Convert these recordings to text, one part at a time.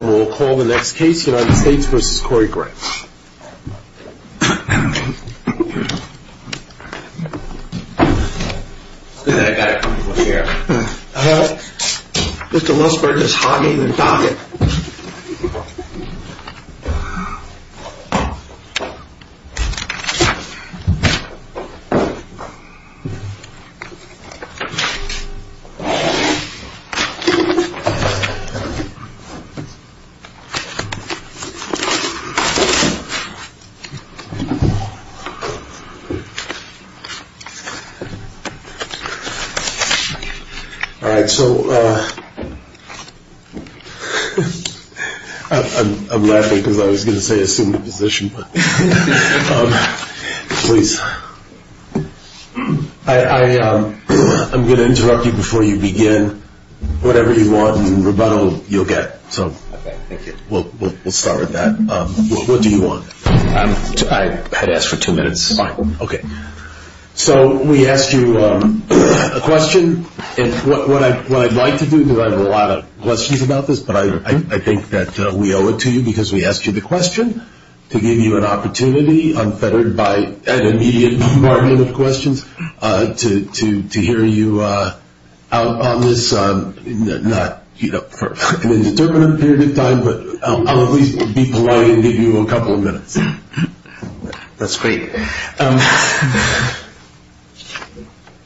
We'll call the next case, United States v. Corey Grant. Good thing I've got everyone here. Mr. Wilsberg is hogging the topic. All right, so I'm laughing because I was going to say assume the position, but please. I'm going to interrupt you before you begin. Whatever you want in rebuttal, you'll get. Okay, thank you. We'll start with that. What do you want? I asked for two minutes. Fine. Okay. So we asked you a question. What I'd like to do, because I have a lot of questions about this, but I think that we owe it to you because we asked you the question to give you an opportunity. I'm feathered by, as a mediator, to hear you out on this, not for an indeterminate period of time, but I'll at least be polite and give you a couple of minutes. That's great.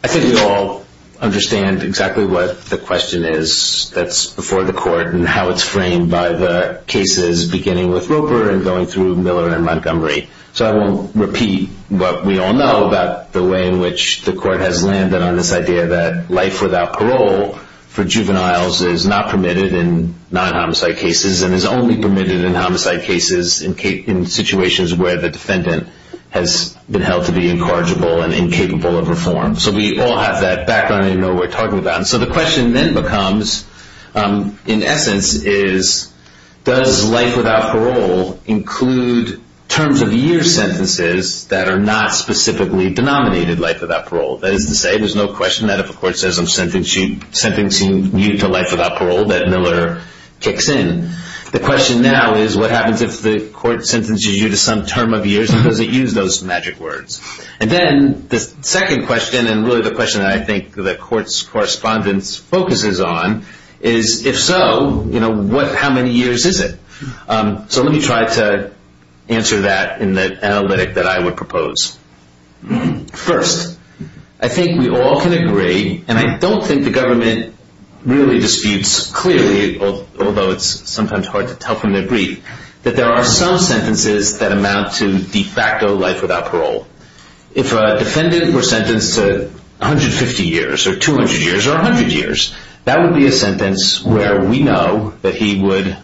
I think we all understand exactly what the question is that's before the court and how it's framed by the cases beginning with Roper and going through Miller and Montgomery. So I won't repeat what we all know about the way in which the court has landed on this idea that life without parole for juveniles is not permitted in non-homicide cases and is only permitted in homicide cases in situations where the defendant has been held to be incorrigible and incapable of reform. So we all have that background and know what we're talking about. So the question then becomes, in essence, does life without parole include terms of year sentences that are not specifically denominated life without parole? That is to say, there's no question that if a court says I'm sentencing you to life without parole that Miller kicks in. The question now is, what happens if the court sentences you to some term of years and doesn't use those magic words? And then the second question, and really the question that I think the court's correspondence focuses on, is if so, how many years is it? So let me try to answer that in the analytic that I would propose. First, I think we all can agree, and I don't think the government really disputes clearly, although it's sometimes hard to tell from their brief, that there are some sentences that amount to de facto life without parole. If a defendant were sentenced to 150 years or 200 years or 100 years, that would be a sentence where we know that he would,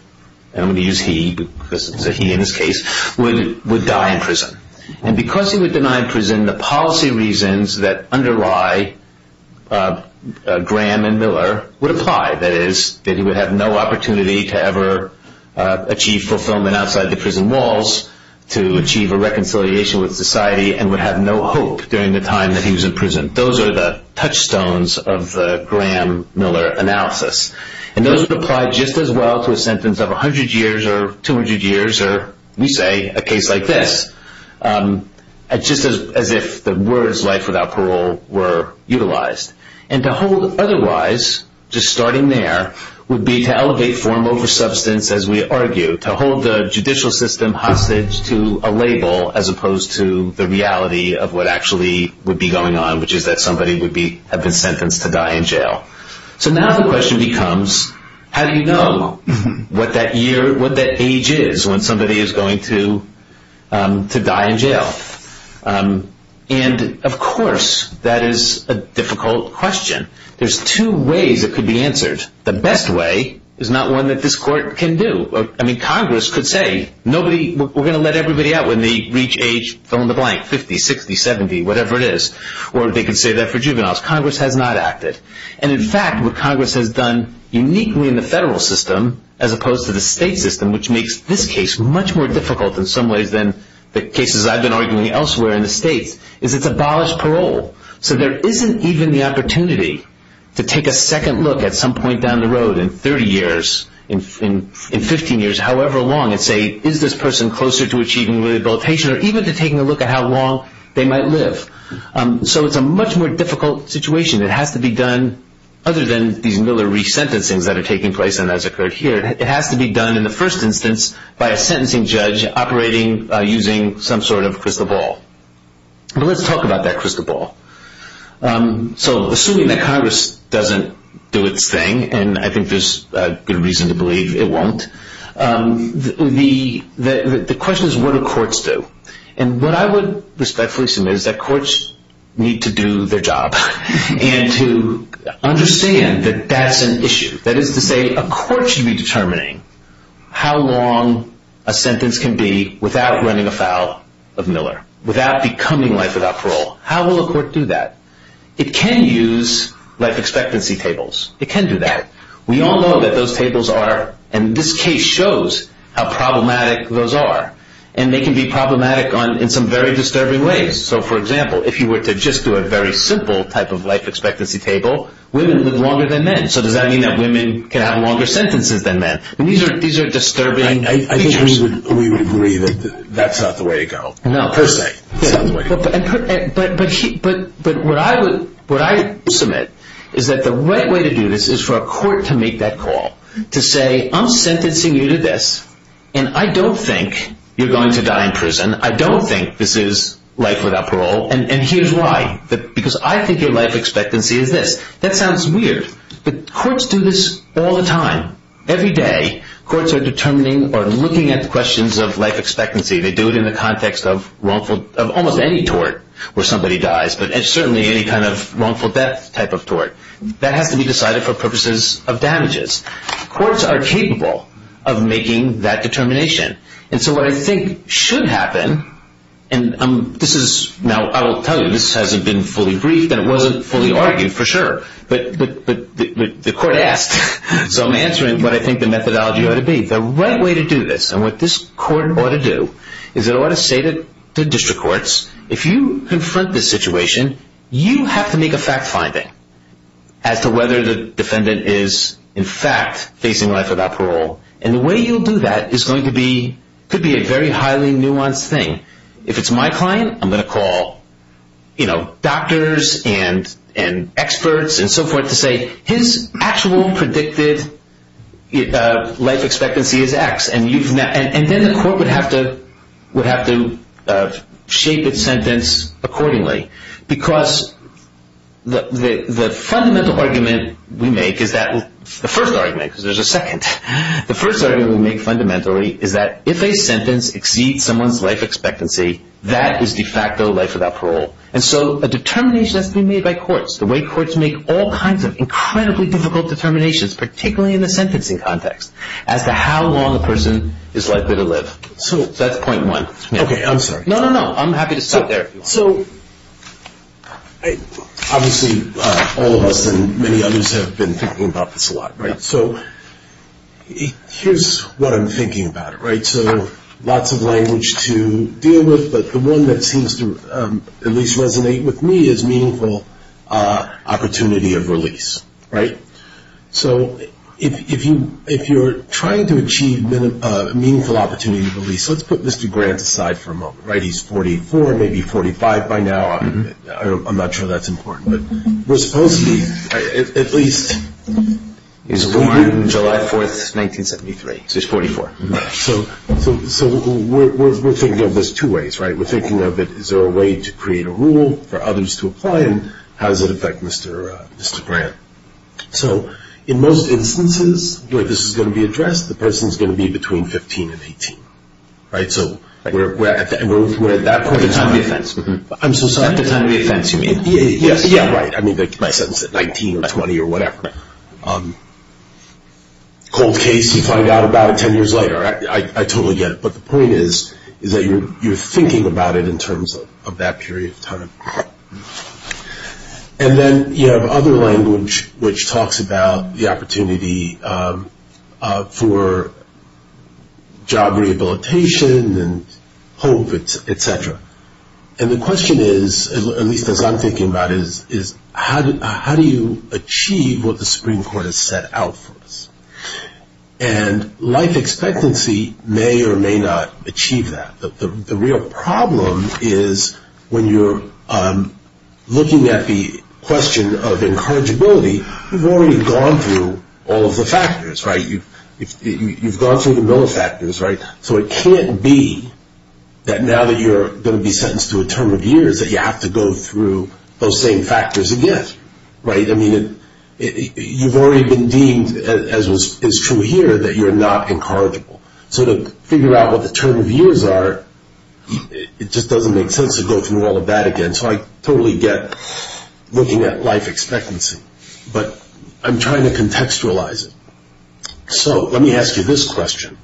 and we use he because it's a he in this case, would die in prison. And because he was denied prison, the policy reasons that underlie Graham and Miller would apply. That is, that he would have no opportunity to ever achieve fulfillment outside the prison walls, to achieve a reconciliation with society, and would have no hope during the time that he was in prison. Those are the touchstones of the Graham-Miller analysis. And those would apply just as well to a sentence of 100 years or 200 years or, we say, a case like this, just as if the words life without parole were utilized. And to hold otherwise, just starting there, would be to elevate form over substance, as we argue, to hold the judicial system hostage to a label as opposed to the reality of what actually would be going on, which is that somebody would have been sentenced to die in jail. So now the question becomes, how do you know what that year, what that age is when somebody is going to die in jail? And, of course, that is a difficult question. There's two ways it could be answered. The best way is not one that this court can do. I mean, Congress could say, nobody, we're going to let everybody out when they reach age, fill in the blank, 50, 60, 70, whatever it is, or they can say that for juveniles. Congress has not acted. And, in fact, what Congress has done uniquely in the federal system as opposed to the state system, which makes this case much more difficult in some ways than the cases I've been arguing elsewhere in the state, is it's abolished parole. So there isn't even the opportunity to take a second look at some point down the road in 30 years, in 15 years, however long, and say, is this person closer to achieving rehabilitation or even to taking a look at how long they might live? So it's a much more difficult situation. It has to be done, other than the Miller re-sentencing that are taking place and has occurred here, it has to be done in the first instance by a sentencing judge operating using some sort of crystal ball. Let's talk about that crystal ball. So assuming that Congress doesn't do its thing, and I think there's good reason to believe it won't, the question is, what do courts do? And what I would respectfully say is that courts need to do their job and to understand that that's an issue. That is to say, a court should be determining how long a sentence can be without running afoul of Miller, without becoming life without parole. How will a court do that? It can use life expectancy tables. It can do that. We all know that those tables are, and this case shows how problematic those are, and they can be problematic in some very disturbing ways. So, for example, if you were to just do a very simple type of life expectancy table, women live longer than men. So does that mean that women can have longer sentences than men? These are disturbing pictures. I think we would agree that that's not the way to go. No. But what I would submit is that the right way to do this is for a court to make that call, to say, I'm sentencing you to this, and I don't think you're going to die in prison. I don't think this is life without parole, and here's why, because I think your life expectancy is this. That sounds weird, but courts do this all the time. Every day, courts are determining or looking at questions of life expectancy. They do it in the context of almost any tort where somebody dies, but certainly any kind of wrongful death type of tort. That has to be decided for purposes of damages. Courts are capable of making that determination. And so what I think should happen, and I will tell you this hasn't been fully briefed and it wasn't fully argued for sure, but the court asked. So I'm answering what I think the methodology ought to be. The right way to do this, and what this court ought to do, is it ought to say to district courts, if you confront this situation, you have to make a fact finding as to whether the defendant is in fact facing life without parole. And the way you'll do that is going to be a very highly nuanced thing. If it's my client, I'm going to call doctors and experts and so forth to say his actual predicted life expectancy is X. And then the court would have to shape its sentence accordingly. Because the first argument we make fundamentally is that if a sentence exceeds someone's life expectancy, that is de facto life without parole. And so a determination has to be made by courts. The way courts make all kinds of incredibly difficult determinations, particularly in the sentencing context, as to how long a person is likely to live. So that's point one. Okay, I'm sorry. No, no, no. I'm happy to stop there. Obviously, all of us and many others have been thinking about this a lot, right? So here's what I'm thinking about, right? So lots of language to deal with, but the one that seems to at least resonate with me is meaningful opportunity of release, right? So if you're trying to achieve meaningful opportunity of release, let's put Mr. Grant aside for a moment, right? He's 44, maybe 45 by now. I'm not sure that's important. We're supposed to be at least... He was born in July 4th, 1973. So he's 44. So we're thinking of this two ways, right? We're thinking of it, is there a way to create a rule for others to apply, and how does it affect Mr. Grant? So in most instances, if this is going to be addressed, the person is going to be between 15 and 18, right? So we're at that point. At the time of the offense. I'm so sorry? At the time of the offense, you mean? Yeah, right. I mean, 19 or 20 or whatever. Cold case, you find out about it 10 years later. I totally get it. But the point is, is that you're thinking about it in terms of that period of time. And then you have other language which talks about the opportunity for job rehabilitation and hope, et cetera. And the question is, at least as I'm thinking about it, is how do you achieve what the Supreme Court has set out for us? And life expectancy may or may not achieve that. The real problem is when you're looking at the question of incorrigibility, you've already gone through all of the factors, right? You've gone through the middle factors, right? So it can't be that now that you're going to be sentenced to a term of years that you have to go through those same factors again, right? You've already been deemed, as is true here, that you're not incorrigible. So to figure out what the term of years are, it just doesn't make sense to go through all of that again. So I totally get looking at life expectancy. But I'm trying to contextualize it. So let me ask you this question.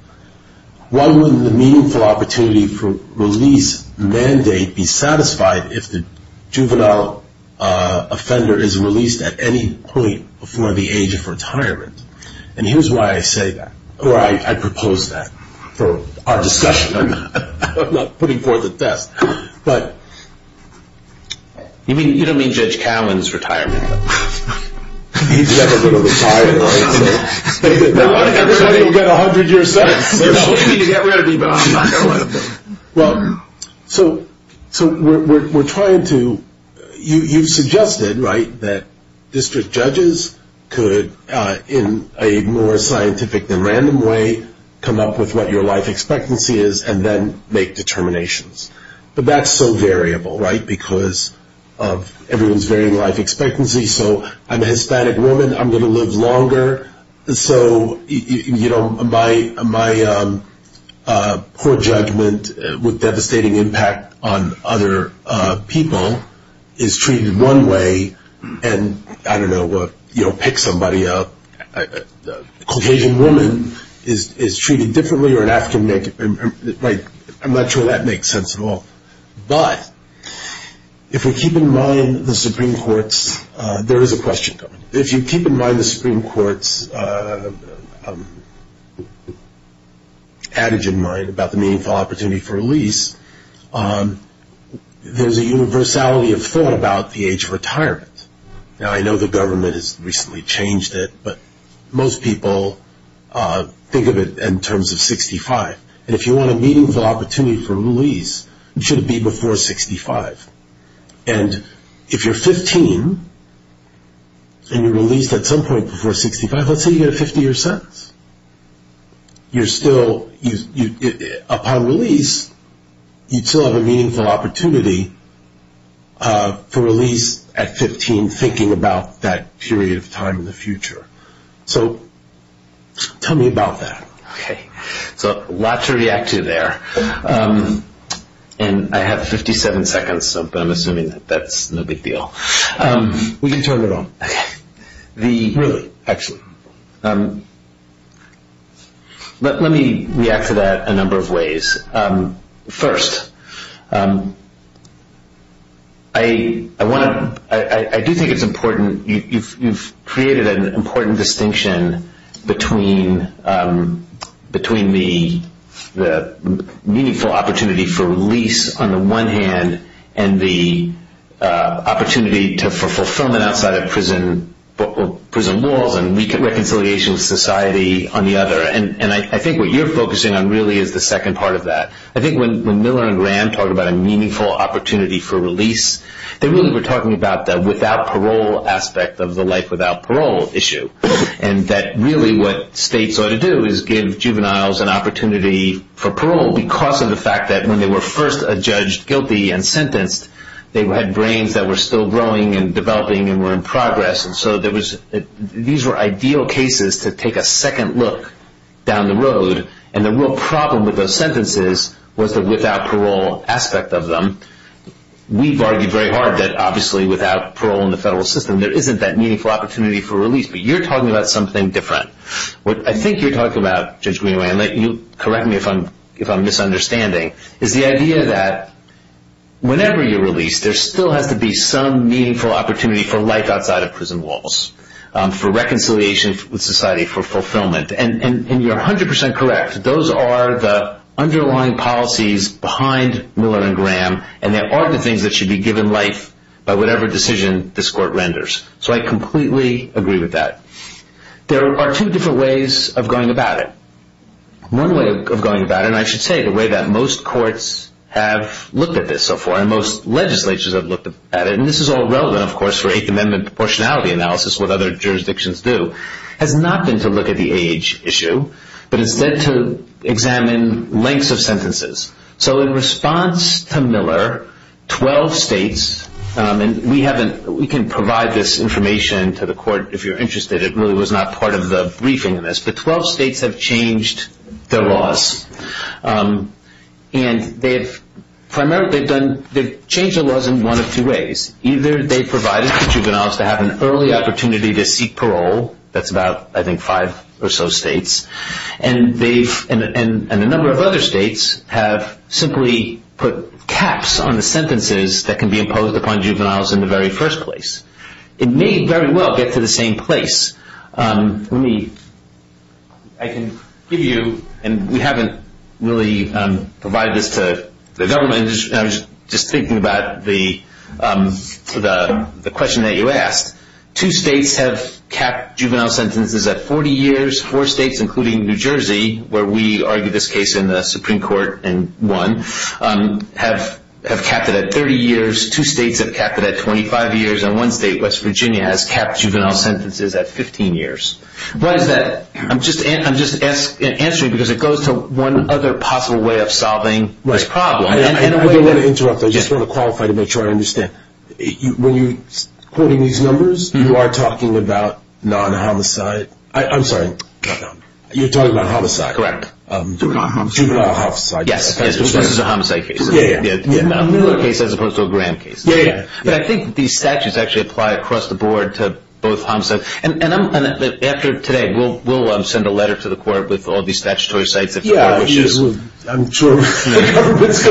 Why wouldn't the meaningful opportunity for release mandate be satisfied if the juvenile offender is released at any point before the age of retirement? And here's why I say that, or why I propose that for our discussion. I'm not putting forth a theft. But you don't mean Judge Callen's retirement. He's never going to retire. He's got 100 years left. So we're trying to you suggested, right, that district judges could, in a more scientific and random way, come up with what your life expectancy is and then make determinations. But that's so variable, right, because of everyone's varying life expectancy. So I'm a Hispanic woman. I'm going to live longer. So, you know, my poor judgment with devastating impact on other people is treated one way. And I don't know what, you know, pick somebody up. A Caucasian woman is treated differently or an African woman. I'm not sure that makes sense at all. But if we keep in mind the Supreme Court's, there is a question. If you keep in mind the Supreme Court's attitude in mind about the meaningful opportunity for release, there's a universality of thought about the age of retirement. Now, I know the government has recently changed it, but most people think of it in terms of 65. And if you want a meaningful opportunity for release, you should be before 65. And if you're 15 and you're released at some point before 65, let's say you get 50 or so, you're still, upon release, you still have a meaningful opportunity for release at 15, thinking about that period of time in the future. So tell me about that. Okay. So lots to react to there. And I have 57 seconds, so I'm assuming that's no big deal. We can turn it on. Okay. Really, actually. Let me react to that a number of ways. First, I do think it's important. You've created an important distinction between the meaningful opportunity for release on the one hand and the opportunity for fulfillment outside of prison laws and reconciliation of society on the other. And I think what you're focusing on really is the second part of that. I think when Miller and Graham talk about a meaningful opportunity for release, they really were talking about the without parole aspect of the life without parole issue, and that really what states ought to do is give juveniles an opportunity for parole because of the fact that when they were first judged guilty and sentenced, they had brains that were still growing and developing and were in progress. And so these were ideal cases to take a second look down the road. And the real problem with those sentences was the without parole aspect of them. We've argued very hard that, obviously, without parole in the federal system, there isn't that meaningful opportunity for release. But you're talking about something different. What I think you're talking about, Judge Greenway, and correct me if I'm misunderstanding, is the idea that whenever you release, there still has to be some meaningful opportunity for life outside of prison laws, for reconciliation with society, for fulfillment. And you're 100% correct. Those are the underlying policies behind Miller and Graham, and they are the things that should be given life by whatever decision this court renders. So I completely agree with that. There are two different ways of going about it. One way of going about it, and I should say the way that most courts have looked at this so far, and most legislatures have looked at it, and this is all relevant, of course, for 8th Amendment proportionality analysis, what other jurisdictions do, has not been to look at the age issue, but has been to examine lengths of sentences. So in response to Miller, 12 states, and we can provide this information to the court if you're interested, it really was not part of the briefing of this, but 12 states have changed their laws. And primarily they've changed their laws in one of two ways. Either they've provided for juveniles to have an early opportunity to seek parole. That's about, I think, five or so states. And a number of other states have simply put caps on the sentences that can be imposed upon juveniles in the very first place. It may very well get to the same place. I can give you, and we haven't really provided this to the government, and I was just thinking about the question that you asked. Two states have capped juvenile sentences at 40 years. Four states, including New Jersey, where we argue this case in the Supreme Court and won, have capped it at 30 years. Two states have capped it at 25 years. And one state, West Virginia, has capped juvenile sentences at 15 years. But I'm just answering because it goes to one other possible way of solving this problem. I don't want to interrupt. I just want to qualify to make sure I understand. When you're quoting these numbers, you are talking about non-homicide. I'm sorry. You're talking about homicide. Correct. Yes, this is a homicide case. Yeah, yeah, yeah. A newer case as opposed to a grand case. Yeah, yeah. But I think these statutes actually apply across the board to both homicides. And after today, we'll send a letter to the court with all these statutory statutes. Yeah, absolutely. I'm sure. We have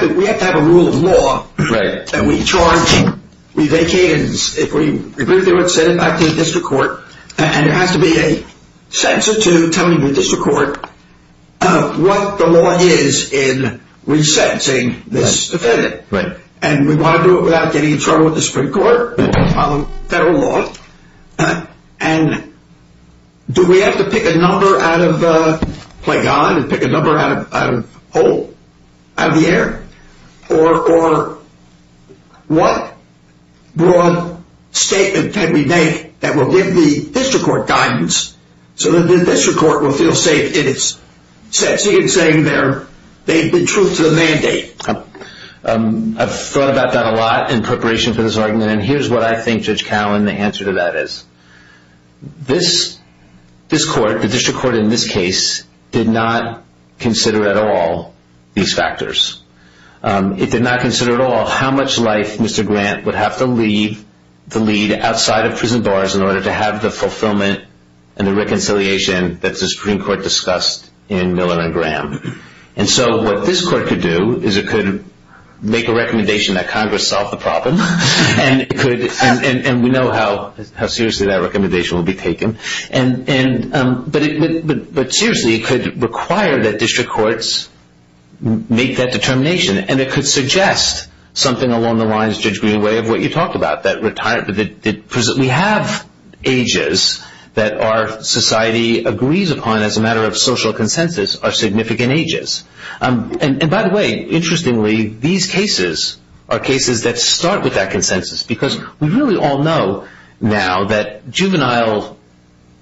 to have a rule of law. Right. And we charge it. We vacate it. We bring it back to the district court. And it has to be a sentence to tell the district court what the law is in resentencing this defendant. Right. And we want to do it without getting in trouble with the Supreme Court. We have to follow federal law. And do we have to pick a number out of play God and pick a number out of a hole out of the air? Or what more statement can we make that will give the district court guidance so that the district court will feel safe in saying they've been true to the mandate? I've thought about that a lot in preparation for this argument. And here's what I think, Judge Cowan, the answer to that is. This court, the district court in this case, did not consider at all these factors. It did not consider at all how much life Mr. Grant would have to lead outside of prison bars in order to have the fulfillment and the reconciliation that the Supreme Court discussed in Miller and Graham. And so what this court could do is it could make a recommendation that Congress solve the problem. And we know how seriously that recommendation will be taken. But seriously, it could require that district courts make that determination. And it could suggest something along the lines, Judge Greenway, of what you talked about, that we have ages that our society agrees upon as a matter of social consensus are significant ages. And, by the way, interestingly, these cases are cases that start with that consensus, because we really all know now that juvenile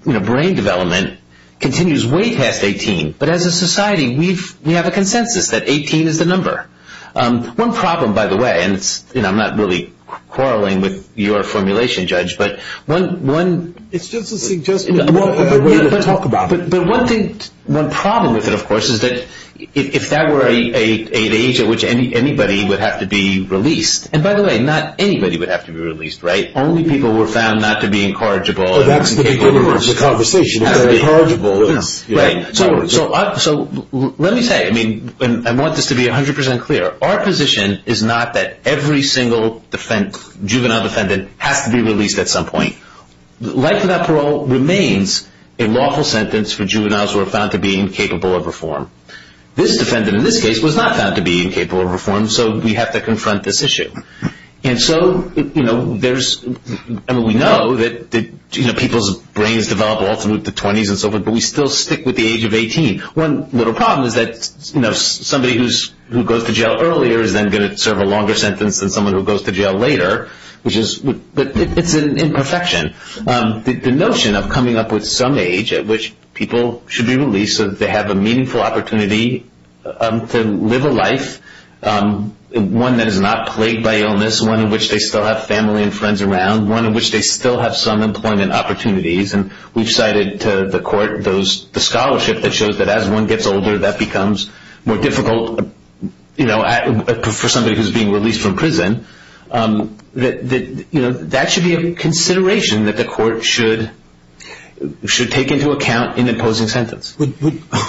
brain development continues way past 18. But as a society, we have a consensus that 18 is the number. One problem, by the way, and I'm not really quarreling with your formulation, Judge, but one thing. One problem with it, of course, is that if that were an age at which anybody would have to be released, and, by the way, not anybody would have to be released, right? Only people who were found not to be incorrigible. So that's the conclusion of the conversation. Not to be incorrigible. Right? So let me say, I mean, I want this to be 100% clear. Our position is not that every single juvenile defendant has to be released at some point. Life without parole remains a lawful sentence for juveniles who are found to be incapable of reform. This defendant, in this case, was not found to be incapable of reform, so we have to confront this issue. And so, you know, there's, I mean, we know that, you know, people's brains develop ultimately to 20s and so forth, but we still stick with the age of 18. One little problem is that, you know, somebody who goes to jail earlier is then going to serve a longer sentence than someone who goes to jail later, which is an imperfection. The notion of coming up with some age at which people should be released so that they have a meaningful opportunity to live a life, one that is not plagued by illness, one in which they still have family and friends around, one in which they still have some employment opportunities, and we've cited to the court the scholarship that shows that as one gets older, that becomes more difficult, you know, for somebody who's being released from prison, that, you know, that should be a consideration that the court should take into account in imposing sentence.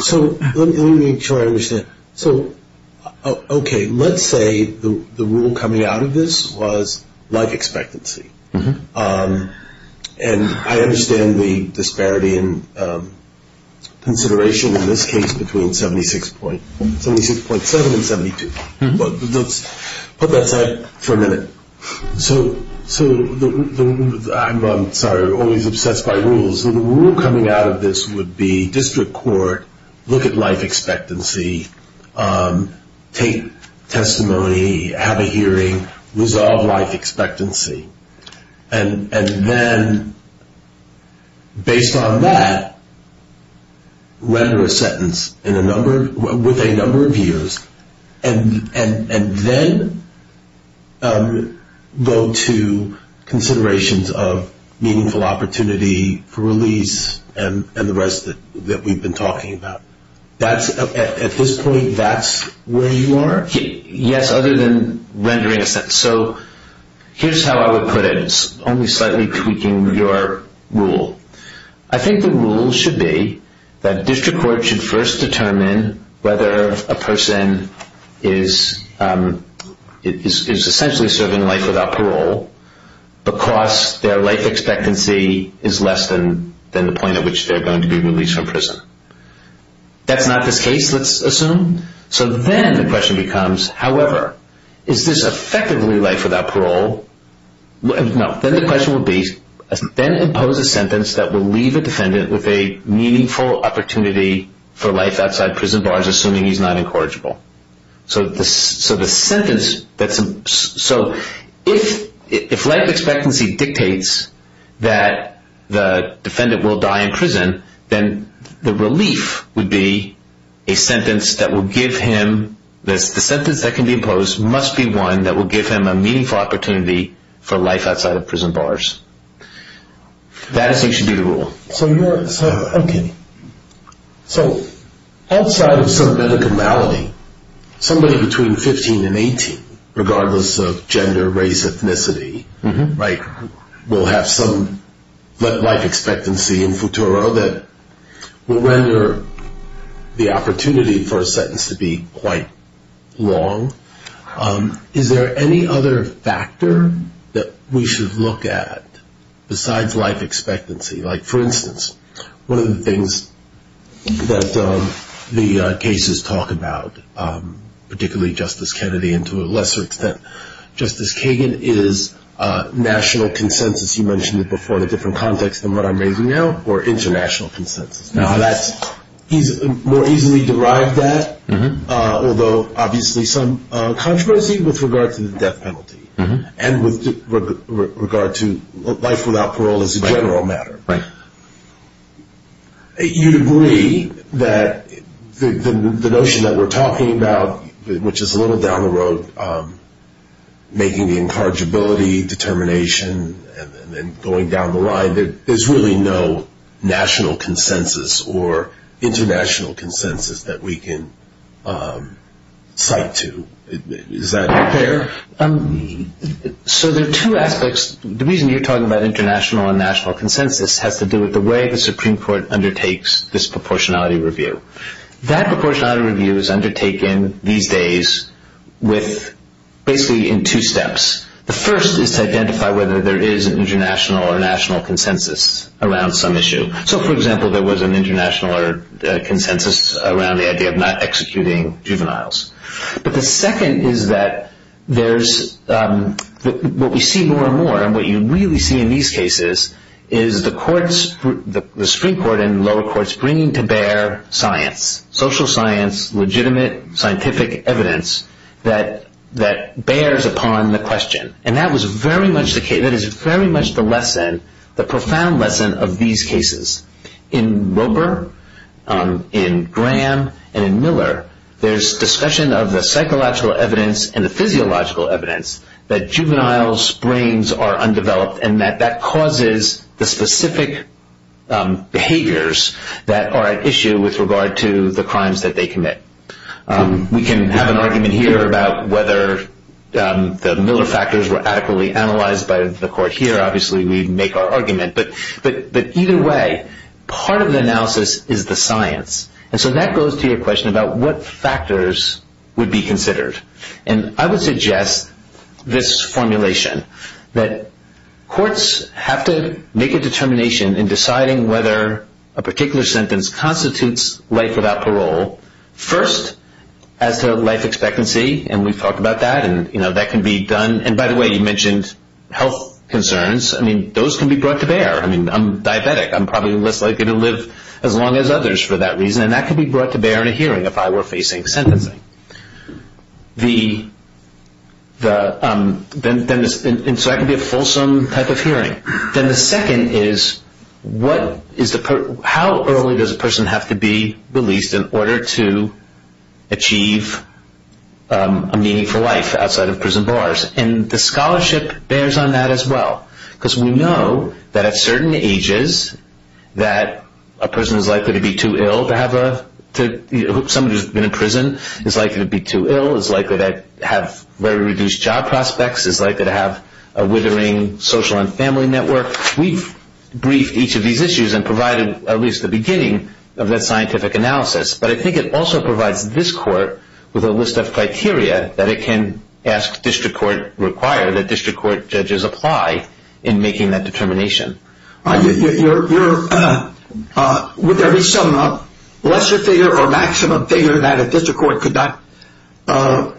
So let me make sure I understand. So, okay, let's say the rule coming out of this was life expectancy. And I understand the disparity in consideration in this case between 76.7 and 72. But let's put that aside for a minute. So I'm always obsessed by rules. The rule coming out of this would be district court, look at life expectancy, take testimony, have a hearing, resolve life expectancy. And then, based on that, render a sentence with a number of years, and then go to considerations of meaningful opportunity for release and the rest that we've been talking about. At this point, that's where you are? So here's how I would put it. It's only slightly tweaking your rule. I think the rule should be that district court should first determine whether a person is essentially serving life without parole because their life expectancy is less than the point at which they're going to be released from prison. That's not the case, let's assume. So then the question becomes, however, is this effectively life without parole? No. Then the question would be, then impose a sentence that will leave the defendant with a meaningful opportunity for life outside prison bars, assuming he's not incorrigible. So the sentence that's – so if life expectancy dictates that the defendant will die in prison, then the relief would be a sentence that will give him – the sentence that can be imposed must be one that will give him a meaningful opportunity for life outside of prison bars. That, I think, should be the rule. Okay. So outside of some medical malady, somebody between 15 and 18, regardless of gender, race, ethnicity, will have some life expectancy in futuro that will render the opportunity for a sentence to be quite long. Is there any other factor that we should look at besides life expectancy? Like, for instance, one of the things that the cases talk about, particularly Justice Kennedy and to a lesser extent Justice Kagan, is national consensus. You mentioned it before in a different context than what I'm making now, or international consensus. More easily derived that, although obviously some controversy with regard to the death penalty and with regard to life without parole as a general matter. Right. You agree that the notion that we're talking about, which is a little down the road, making the incorrigibility determination and going down the line, there's really no national consensus or international consensus that we can cite to. Is that fair? So there are two aspects. The reason you're talking about international and national consensus has to do with the way the Supreme Court undertakes disproportionality review. That proportionality review is undertaken these days basically in two steps. The first is to identify whether there is an international or national consensus around some issue. So, for example, there was an international consensus around the idea of not executing juveniles. But the second is that what we see more and more, and what you really see in these cases, is the Supreme Court and the lower courts bringing to bear science, social science, legitimate scientific evidence that bears upon the question. And that is very much the lesson, the profound lesson of these cases. In Roper, in Graham, and in Miller, there's discussion of the psychological evidence and the physiological evidence that juveniles' brains are undeveloped and that that causes the specific behaviors that are at issue with regard to the crimes that they commit. We can have an argument here about whether the Miller factors were adequately analyzed by the court. Here, obviously, we make our argument. But either way, part of the analysis is the science. And so that goes to your question about what factors would be considered. And I would suggest this formulation, that courts have to make a determination in deciding whether a particular sentence constitutes life without parole. First, as to life expectancy, and we've talked about that, and that can be done. And, by the way, you mentioned health concerns. I mean, those can be brought to bear. I mean, I'm diabetic. I'm probably less likely to live as long as others for that reason. And that can be brought to bear in a hearing if I were facing sentencing. And so that can be a fulsome type of hearing. Then the second is, how early does a person have to be released in order to achieve a meaningful life outside of prison bars? And the scholarship bears on that as well. Because we know that at certain ages that a person is likely to be too ill to have a – somebody who's been in prison is likely to be too ill, is likely to have very reduced job prospects, is likely to have a withering social and family network. We've briefed each of these issues and provided at least the beginning of that scientific analysis. But I think it also provides this court with a list of criteria that it can ask district court – require that district court judges apply in making that determination. Would there be some lesser figure or maximum figure that a district court could not go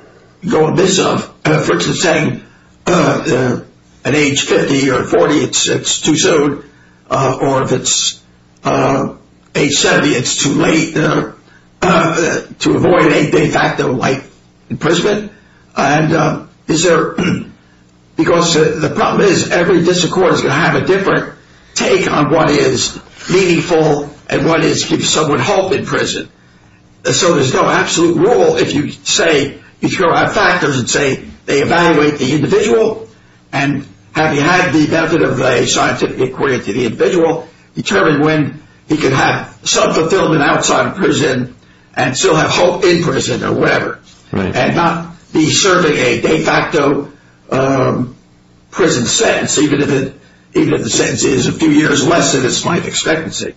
amiss of? For instance, saying at age 50 or 40, it's too soon, or if it's age 70, it's too late, to avoid any big act of life in prison. And is there – because the problem is every district court is going to have a different take on what is meaningful and what is to give someone hope in prison. And so there's no absolute rule if you say – if you go out back and say they evaluate the individual, and have you had the benefit of a scientific inquiry into the individual, determine when he can have self-fulfillment outside of prison and still have hope in prison or whatever. And not be serving a de facto prison sentence, even if the sentence is a few years less than it's might expectancy.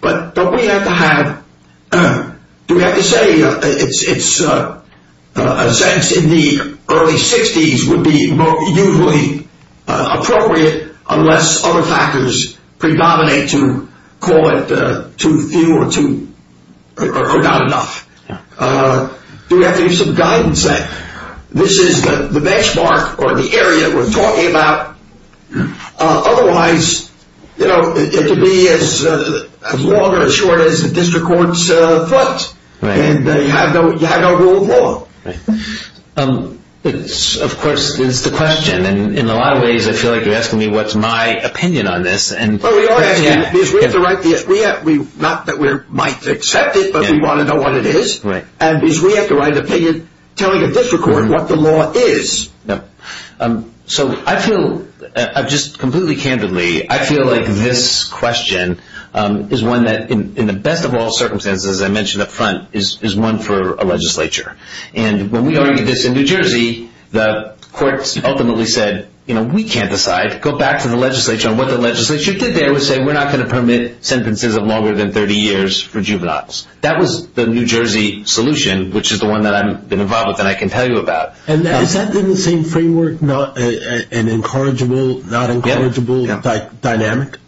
But we have to have – we have to say it's – a sentence in the early 60s would be usually appropriate, unless other factors predominate to call it too few or too – or not enough. We have to give some guidance that this is the benchmark or the area we're talking about. Otherwise, you know, it could be as long or as short as the district court's thoughts. And you have no rule of law. Of course, it's the question. And in a lot of ways, I feel like you're asking me what's my opinion on this. Well, we are asking that because we have to write the – not that we might accept it, but we want to know what it is. And because we have to write an opinion telling a district court what the law is. So I feel – just completely candidly, I feel like this question is one that, in the best of all circumstances, as I mentioned up front, is one for a legislature. And when we argued this in New Jersey, the courts ultimately said, you know, we can't decide. Go back to the legislature on what the legislature said. They always said we're not going to permit sentences of longer than 30 years for juveniles. That was the New Jersey solution, which is the one that I've been involved with and I can tell you about. And has that been the same framework and incorrigibility dynamic?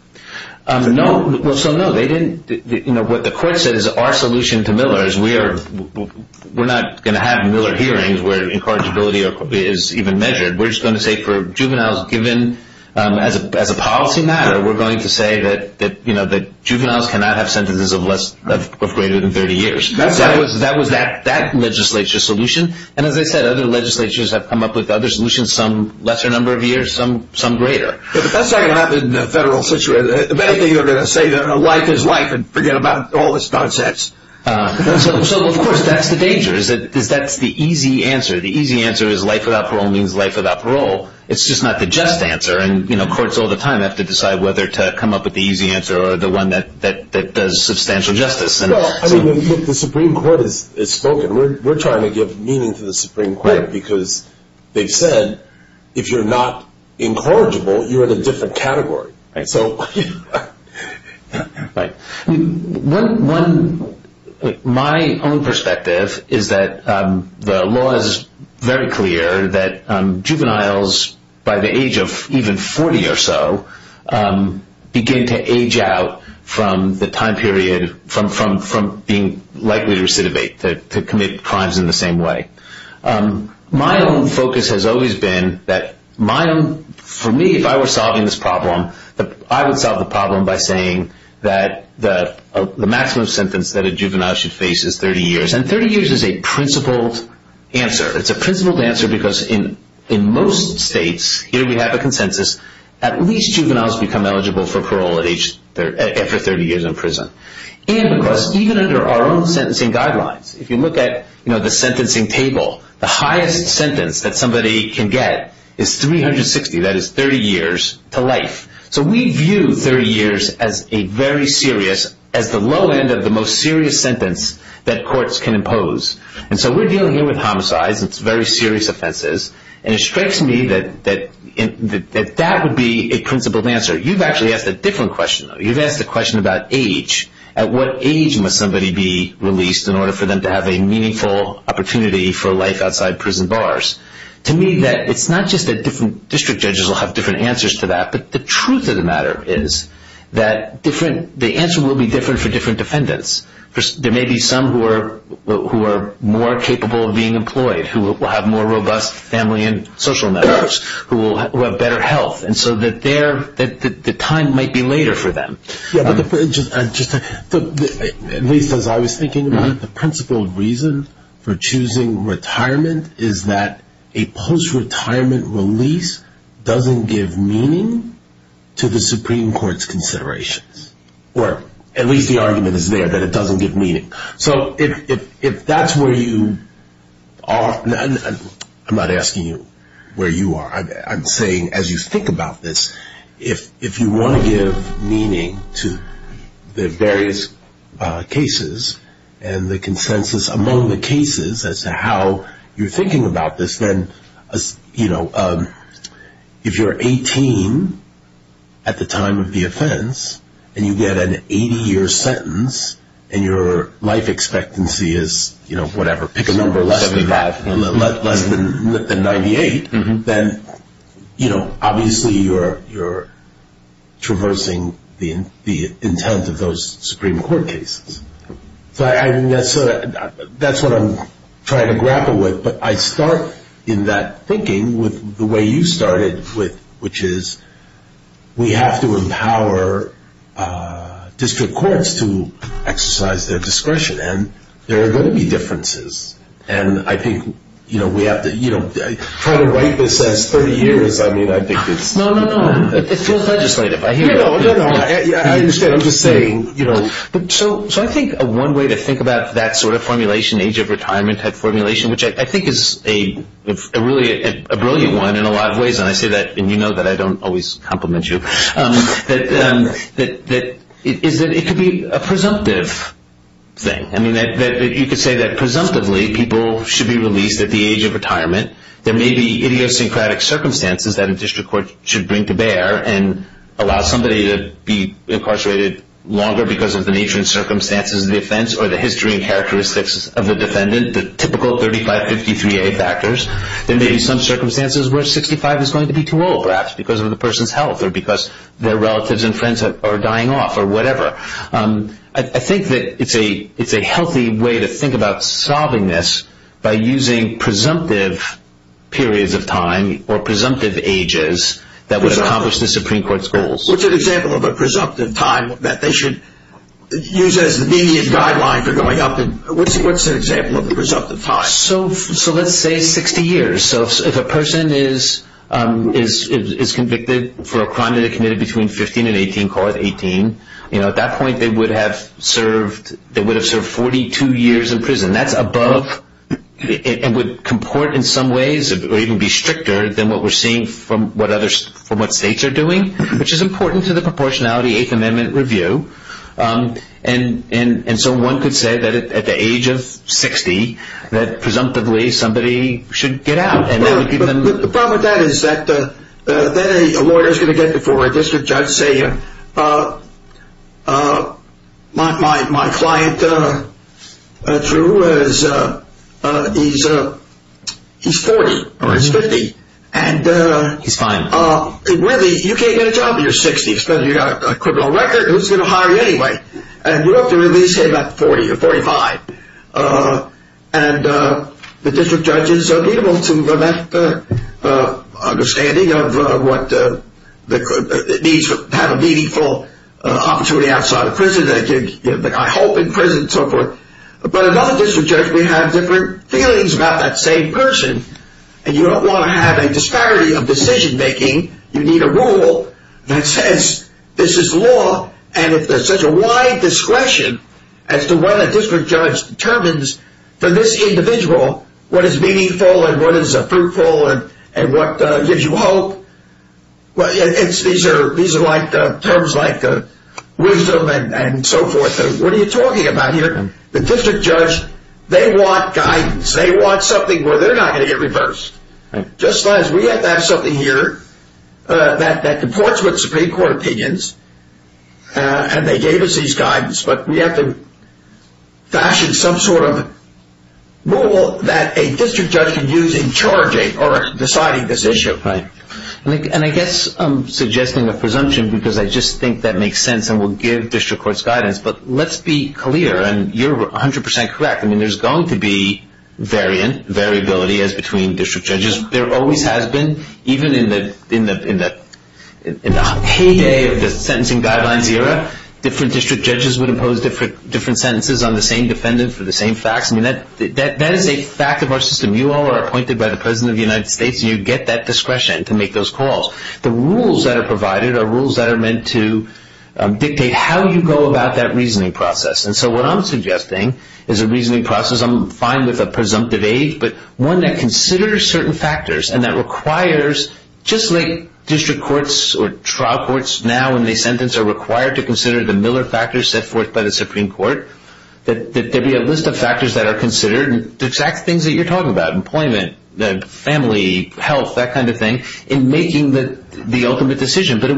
No. Well, so no, they didn't – you know, what the court said is our solution to Miller is we are – we're not going to have Miller hearings where incorrigibility is even measured. We're just going to say for juveniles given as a policy matter, we're going to say that, you know, that juveniles cannot have sentences of less – of greater than 30 years. That was that legislature's solution. And as I said, other legislatures have come up with other solutions, some lesser number of years, some greater. But that's not going to happen in a federal situation. If anything, you're going to say life is life and forget about all this nonsense. So, of course, that's the danger is that that's the easy answer. The easy answer is life without parole means life without parole. It's just not the just answer. And, you know, courts all the time have to decide whether to come up with the easy answer or the one that does substantial justice. Well, I mean, the Supreme Court has spoken. We're trying to give meaning to the Supreme Court because they've said if you're not incorrigible, you're in a different category. My own perspective is that the law is very clear that juveniles by the age of even 40 or so begin to age out from the time period from being likely to recidivate, to commit crimes in the same way. My own focus has always been that my own – for me, if I were solving this problem, I would solve the problem by saying that the maximum sentence that a juvenile should face is 30 years. And 30 years is a principled answer. It's a principled answer because in most states, here we have a consensus, at least juveniles become eligible for parole after 30 years in prison. And, of course, even under our own sentencing guidelines, if you look at the sentencing table, the highest sentence that somebody can get is 360, that is 30 years to life. So we view 30 years as a very serious – at the low end of the most serious sentence that courts can impose. And so we're dealing here with homicides. It's very serious offenses. And it strikes me that that would be a principled answer. You've actually asked a different question, though. You've asked a question about age. At what age must somebody be released in order for them to have a meaningful opportunity for life outside prison bars? To me, it's not just that different district judges will have different answers to that, but the truth of the matter is that the answer will be different for different defendants. There may be some who are more capable of being employed, who will have more robust family and social networks, who will have better health. And so the time might be later for them. As I was thinking, one of the principled reasons for choosing retirement is that a post-retirement release doesn't give meaning to the Supreme Court's considerations. Or at least the argument is there that it doesn't give meaning. So if that's where you are – I'm not asking you where you are. I'm saying as you think about this, if you want to give meaning to the various cases and the consensus among the cases as to how you're thinking about this, then, you know, if you're 18 at the time of the offense and you get an 80-year sentence and your life expectancy is, you know, whatever, pick a number less than 98, then, you know, obviously you're traversing the intent of those Supreme Court cases. So that's what I'm trying to grapple with. But I start in that thinking with the way you started, which is we have to empower district courts to exercise their discretion. And there are going to be differences. And I think, you know, we have to – you know, I've tried to write this last 30 years. I mean, I think it's – No, no, no. It feels legislative. I understand. I'm just saying, you know, so I think one way to think about that sort of formulation, age of retirement type formulation, which I think is really a brilliant one in a lot of ways, and you know that I don't always compliment you, that it could be a presumptive thing. I mean, you could say that presumptively people should be released at the age of retirement. There may be idiosyncratic circumstances that a district court should bring to bear and allow somebody to be incarcerated longer because of the nature and circumstances of the offense or the history and characteristics of the defendant, the typical 35-53-A factors. There may be some circumstances where 65 is going to be too old perhaps because of the person's health or because their relatives and friends are dying off or whatever. I think that it's a healthy way to think about solving this by using presumptive periods of time or presumptive ages that would accomplish the Supreme Court's goals. What's an example of a presumptive time that they should use as a median guideline for going up? What's an example of a presumptive time? So let's say it's 60 years. So if a person is convicted for a crime they committed between 15 and 18, call it 18, you know, at that point they would have served 42 years in prison. That's above and would comport in some ways or even be stricter than what we're seeing from what states are doing, which is important to the proportionality Eighth Amendment review. And so one could say that at the age of 60 that presumptively somebody should get out. The problem with that is that then a lawyer is going to get before a district judge and say, my client, he's 40 or he's 50, and really you can't get a job until you're 60 because you've got a criminal record, who's going to hire you anyway? And you have to at least say about 40 or 45. And the district judges are able to have that understanding of what it means to have a meaningful opportunity outside of prison, I hope in prison and so forth. But as other district judges, we have different feelings about that same person, and you don't want to have a disparity of decision-making. You need a rule that says this is the law, and it's such a wide discretion as to whether a district judge determines for this individual what is meaningful and what is fruitful and what gives you hope. These are terms like wisdom and so forth. What are you talking about here? The district judge, they want guidance. They want something where they're not going to get reversed. We have to have something here that supports what the Supreme Court opinions, and they gave us these guidance, but we have to fashion some sort of rule that a district judge can use in charging or deciding this issue. And I guess I'm suggesting a presumption because I just think that makes sense and would give district courts guidance, but let's be clear, and you're 100% correct, I mean, there's going to be variance, variability as between district judges. There always has been, even in the heyday of the sentencing guidelines era, different district judges would impose different sentences on the same defendant for the same facts. I mean, that is a fact of our system. You all are appointed by the President of the United States, and you get that discretion to make those calls. The rules that are provided are rules that are meant to dictate how you go about that reasoning process. And so what I'm suggesting is a reasoning process. I'm fine with a presumptive age, but one that considers certain factors and that requires just like district courts or trial courts now when they sentence are required to consider the Miller factors set forth by the Supreme Court, that there be a list of factors that are considered, the exact things that you're talking about, employment, family, health, that kind of thing, in making the ultimate decision. But it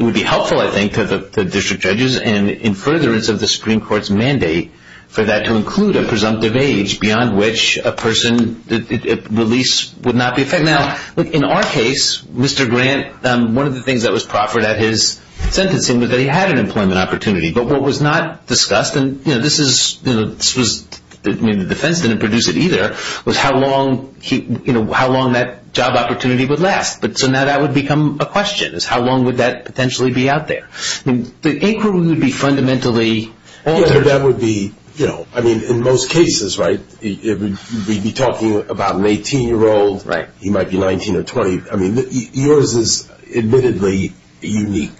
would be helpful, I think, for the district judges and in furtherance of the Supreme Court's mandate for that to include a presumptive age beyond which a person's release would not be affected. Now, in our case, Mr. Grant, one of the things that was proffered at his sentencing was that he had an employment opportunity. But what was not discussed, and the defense didn't produce it either, was how long that job opportunity would last. So now that would become a question, is how long would that potentially be out there? The inquiry would be fundamentally... That would be, you know, I mean, in most cases, right, we'd be talking about an 18-year-old, he might be 19 or 20. I mean, yours is admittedly unique.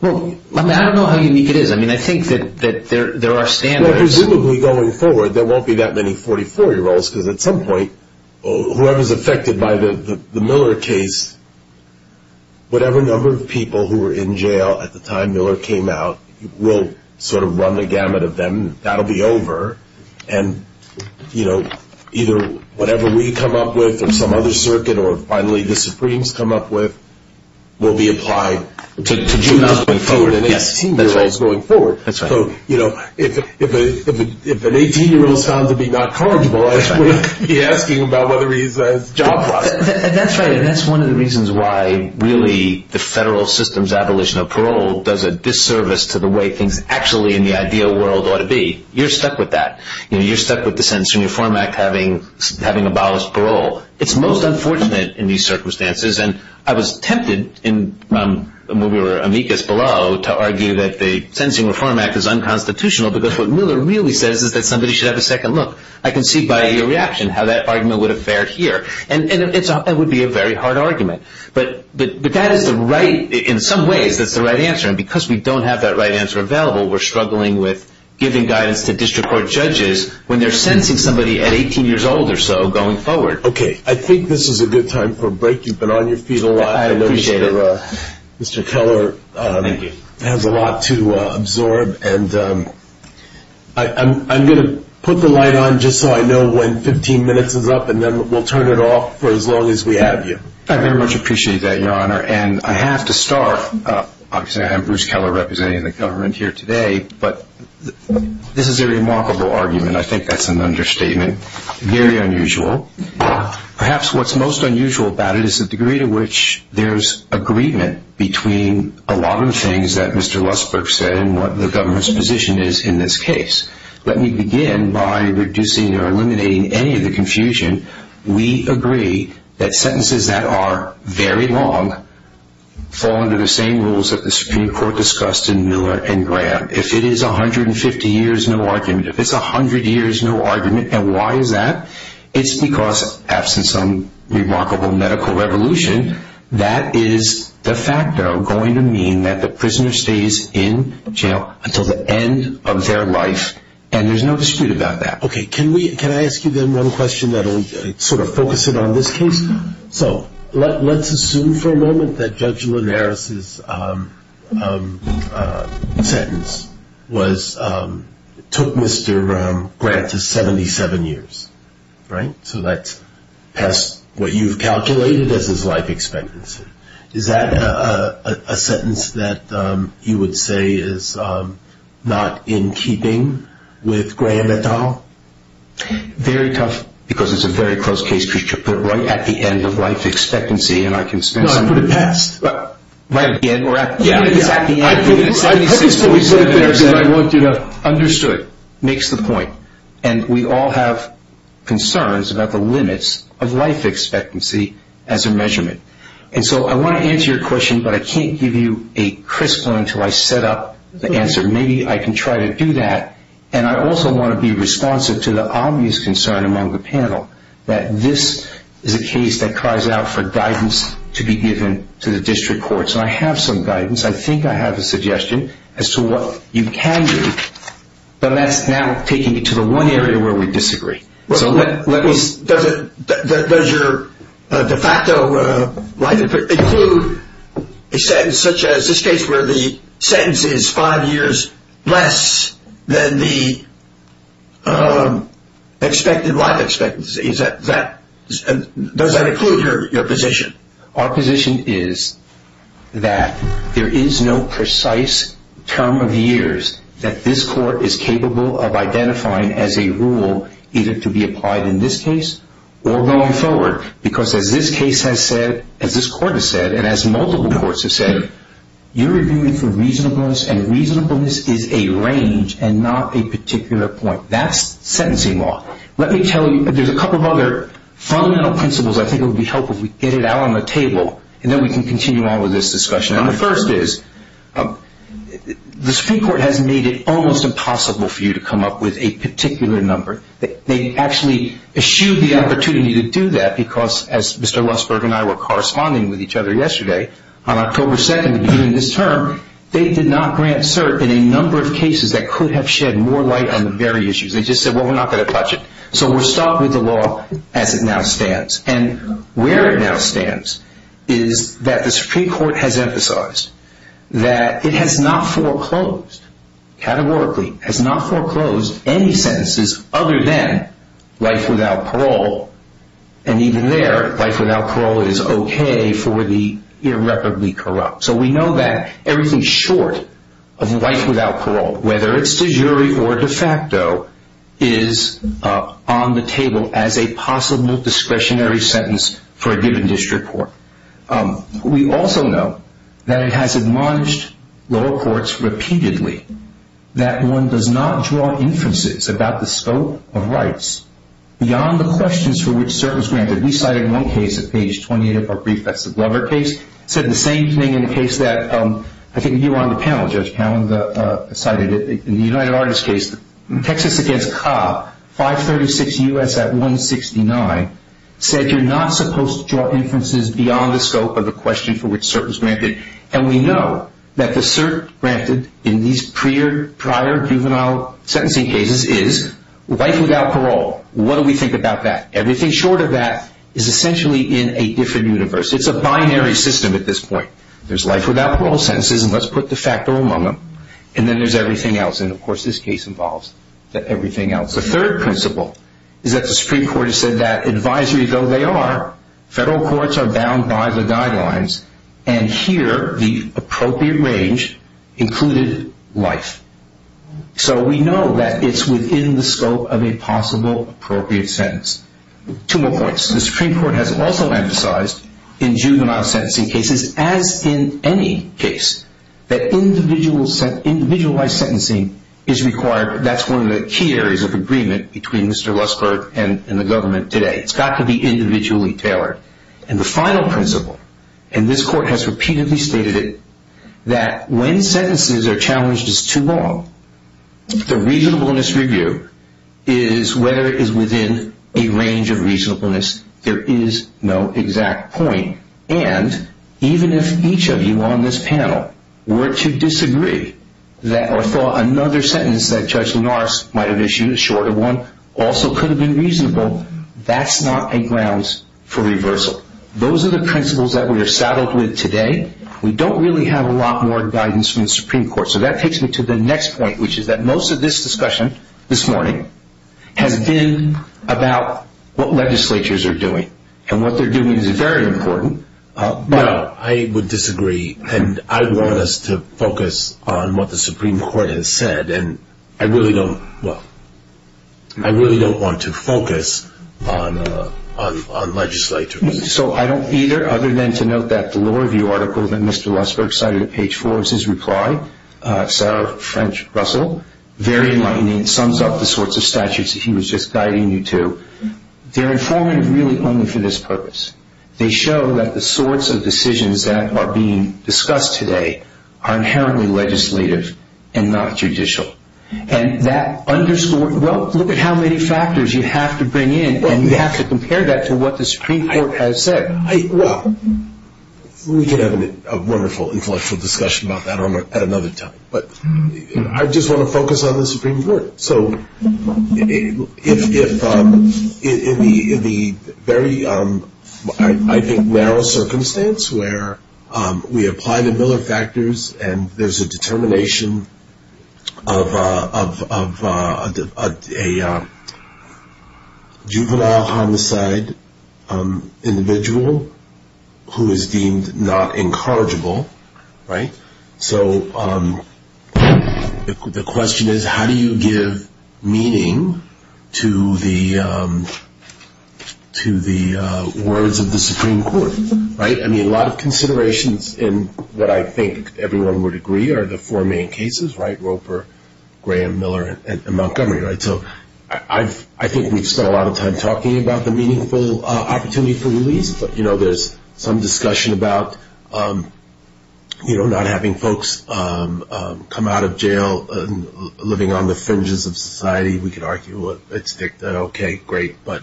I don't know how unique it is. I mean, I think that there are standards... There won't be that many 44-year-olds because at some point, whoever is affected by the Miller case, whatever number of people who were in jail at the time Miller came out will sort of run the gamut of them. That will be over. And, you know, either whatever we come up with or some other circuit or finally the Supremes come up with will be applied to juveniles going forward and 18-year-olds going forward. That's right. So, you know, if an 18-year-old is found to be not culpable, I shouldn't be asking about whether he's a juvenile. That's right, and that's one of the reasons why really the federal system's abolition of parole does a disservice to the way things actually in the ideal world ought to be. You're stuck with that. You know, you're stuck with the Sentencing Reform Act having abolished parole. It's most unfortunate in these circumstances, and I was tempted when we were amicus parole to argue that the Sentencing Reform Act is unconstitutional because what Miller really says is that somebody should have a second look. I can see by your reaction how that argument would have fared here, and it would be a very hard argument. But that is the right, in some ways, that's the right answer, and because we don't have that right answer available, we're struggling with giving guidance to district court judges when they're sentencing somebody at 18 years old or so going forward. Okay, I think this is a good time for a break. You've been on your feet a lot. I appreciate it. I know Mr. Keller has a lot to absorb, and I'm going to put the light on just so I know when 15 minutes is up, and then we'll turn it off for as long as we have you. I very much appreciate that, Your Honor, and I have to start. Obviously, I have Bruce Keller representing the government here today, but this is a remarkable argument. I think that's an understatement. Very unusual. Perhaps what's most unusual about it is the degree to which there's agreement between a lot of the things that Mr. Westbrook said and what the government's position is in this case. Let me begin by reducing or eliminating any of the confusion. We agree that sentences that are very long fall under the same rules that the Supreme Court discussed in Miller and Graham. If it is 150 years, no argument. If it's 100 years, no argument. And why is that? It's because, absent some remarkable medical evolution, that is the fact that I'm going to mean that the prisoner stays in jail until the end of their life, and there's no dispute about that. Okay. Can I ask you then one question that will sort of focus it on this case? Let's assume for a moment that Judge Linares' sentence took Mr. Graham to 77 years. So that's past what you've calculated as his life expectancy. Is that a sentence that you would say is not in keeping with Graham at all? Very tough because it's a very close case for you to put right at the end of life expectancy, and I can spend some time. No, I put it past. Right at the end? Yeah, yeah. At the end. I hope you still respect what I wrote there. Understood. Makes the point. And we all have concerns about the limits of life expectancy as a measurement. And so I want to answer your question, but I can't give you a crystal until I set up the answer. Maybe I can try to do that. And I also want to be responsive to the obvious concern among the panel, that this is a case that cries out for guidance to be given to the district courts. And I have some guidance. I think I have a suggestion as to what you can do. But that's now taking me to the one area where we disagree. Does your de facto life expectancy include a sentence such as this case where the sentence is five years less than the expected life expectancy? Does that include your position? Our position is that there is no precise term of years that this court is capable of identifying as a rule either to be applied in this case or going forward. Because as this case has said, as this court has said, and as multiple courts have said, you're arguing for reasonableness, and reasonableness is a range and not a particular point. That's sentencing law. Let me tell you, there's a couple of other fundamental principles I think would be helpful if we get it out on the table, and then we can continue on with this discussion. And the first is the Supreme Court has made it almost impossible for you to come up with a particular number. They actually eschewed the opportunity to do that because, as Mr. Westberg and I were corresponding with each other yesterday, on October 2nd, beginning of this term, they did not grant cert in a number of cases that could have shed more light on the very issues. They just said, well, we're not going to touch it. So we're stuck with the law as it now stands. And where it now stands is that the Supreme Court has emphasized that it has not foreclosed, categorically, has not foreclosed any sentences other than life without parole. And even there, life without parole is okay for the irreparably corrupt. So we know that everything short of life without parole, whether it's a jury or de facto, is on the table as a possible discretionary sentence for a given district court. We also know that it has admonished lower courts repeatedly that one does not draw inferences about the scope of rights beyond the questions for which cert was granted. We cited one case at page 28 of our brief, that's the Glover case, said the same thing in a case that I think you were on the panel, Judge Powell, in the United Artists case, Texas against Cobb, 536 U.S. at 169, said you're not supposed to draw inferences beyond the scope of the question for which cert was granted. And we know that the cert granted in these prior juvenile sentencing cases is life without parole. What do we think about that? Everything short of that is essentially in a different universe. It's a binary system at this point. There's life without parole sentences, and let's put de facto among them, and then there's everything else. And, of course, this case involves everything else. The third principle is that the Supreme Court has said that advisories, though they are, federal courts are bound by the guidelines, and here the appropriate range included life. So we know that it's within the scope of a possible appropriate sentence. Two more points. The Supreme Court has also emphasized in juvenile sentencing cases, as in any case, that individualized sentencing is required. That's one of the key areas of agreement between Mr. Westberg and the government today. It's got to be individually tailored. And the final principle, and this court has repeatedly stated it, that when sentences are challenged as too long, the reasonableness review is where it is within a range of reasonableness. There is no exact point. And even if each of you on this panel were to disagree that or thought another sentence that Judge Linares might have issued, a shorter one, also could have been reasonable, that's not a grounds for reversal. Those are the principles that we are saddled with today. We don't really have a lot more guidance from the Supreme Court. So that takes me to the next point, which is that most of this discussion this morning has been about what legislatures are doing. And what they're doing is very important. No, I would disagree. And I want us to focus on what the Supreme Court has said. And I really don't want to focus on legislatures. So I don't either, other than to note that the law review article that Mr. Westbrook cited at page four of his reply, it's our French Russell, very enlightening. It sums up the sorts of statutes that he was just guiding you to. They're informative really only for this purpose. They show that the sorts of decisions that are being discussed today are inherently legislative and not judicial. And that underscores, well, look at how many factors you have to bring in. And you have to compare that to what the Supreme Court has said. Well, we can have a wonderful intellectual discussion about that at another time. But I just want to focus on the Supreme Court. So in the very, I think, narrow circumstance where we apply the Miller factors and there's a determination of a juvenile homicide individual who is deemed not incorrigible, right? So the question is, how do you give meaning to the words of the Supreme Court, right? I mean, a lot of considerations in what I think everyone would agree are the four main cases, right, Roper, Graham, Miller, and Montgomery, right? So I think we've spent a lot of time talking about the meaningful opportunity for release. But, you know, there's some discussion about, you know, not having folks come out of jail and living on the fringes of society. We could argue, well, it's dicta. Okay, great. But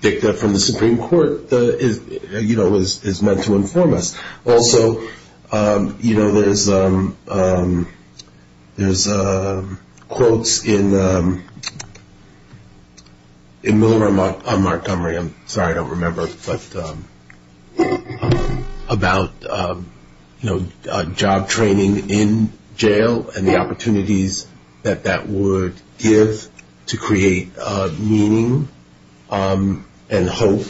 dicta from the Supreme Court, you know, is meant to inform us. Also, you know, there's quotes in Miller and Montgomery. I'm sorry, I don't remember, but about, you know, job training in jail and the opportunities that that would give to create meaning and hope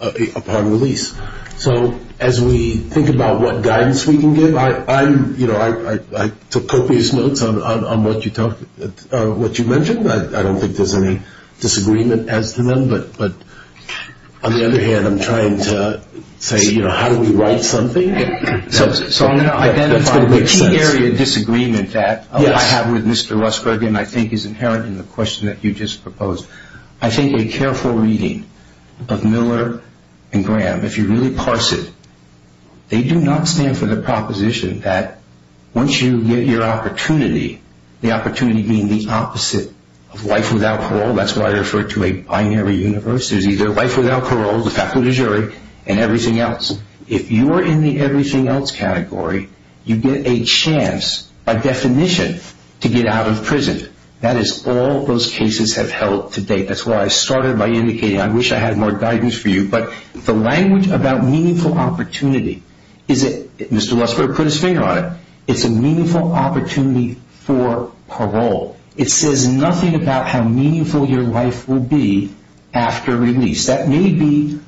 upon release. So as we think about what guidance we can give, you know, I took copious notes on what you mentioned. I don't think there's any disagreement as to them. But, on the other hand, I'm trying to say, you know, how do we write something? So I'm going to identify the key area of disagreement that I have with Mr. Rusberg and I think is inherent in the question that you just proposed. I think a careful reading of Miller and Graham, if you really parse it, they do not stand for the proposition that once you get your opportunity, the opportunity being the opposite of life without parole. That's why I refer to a binary universe. There's either life without parole, the fact of the jury, and everything else. If you are in the everything else category, you get a chance, by definition, to get out of prison. That is all those cases have held to date. That's why I started by indicating I wish I had more guidance for you. But the language about meaningful opportunity is that Mr. Rusberg put his finger on it. It's a meaningful opportunity for parole. It says nothing about how meaningful your life will be after release. That may be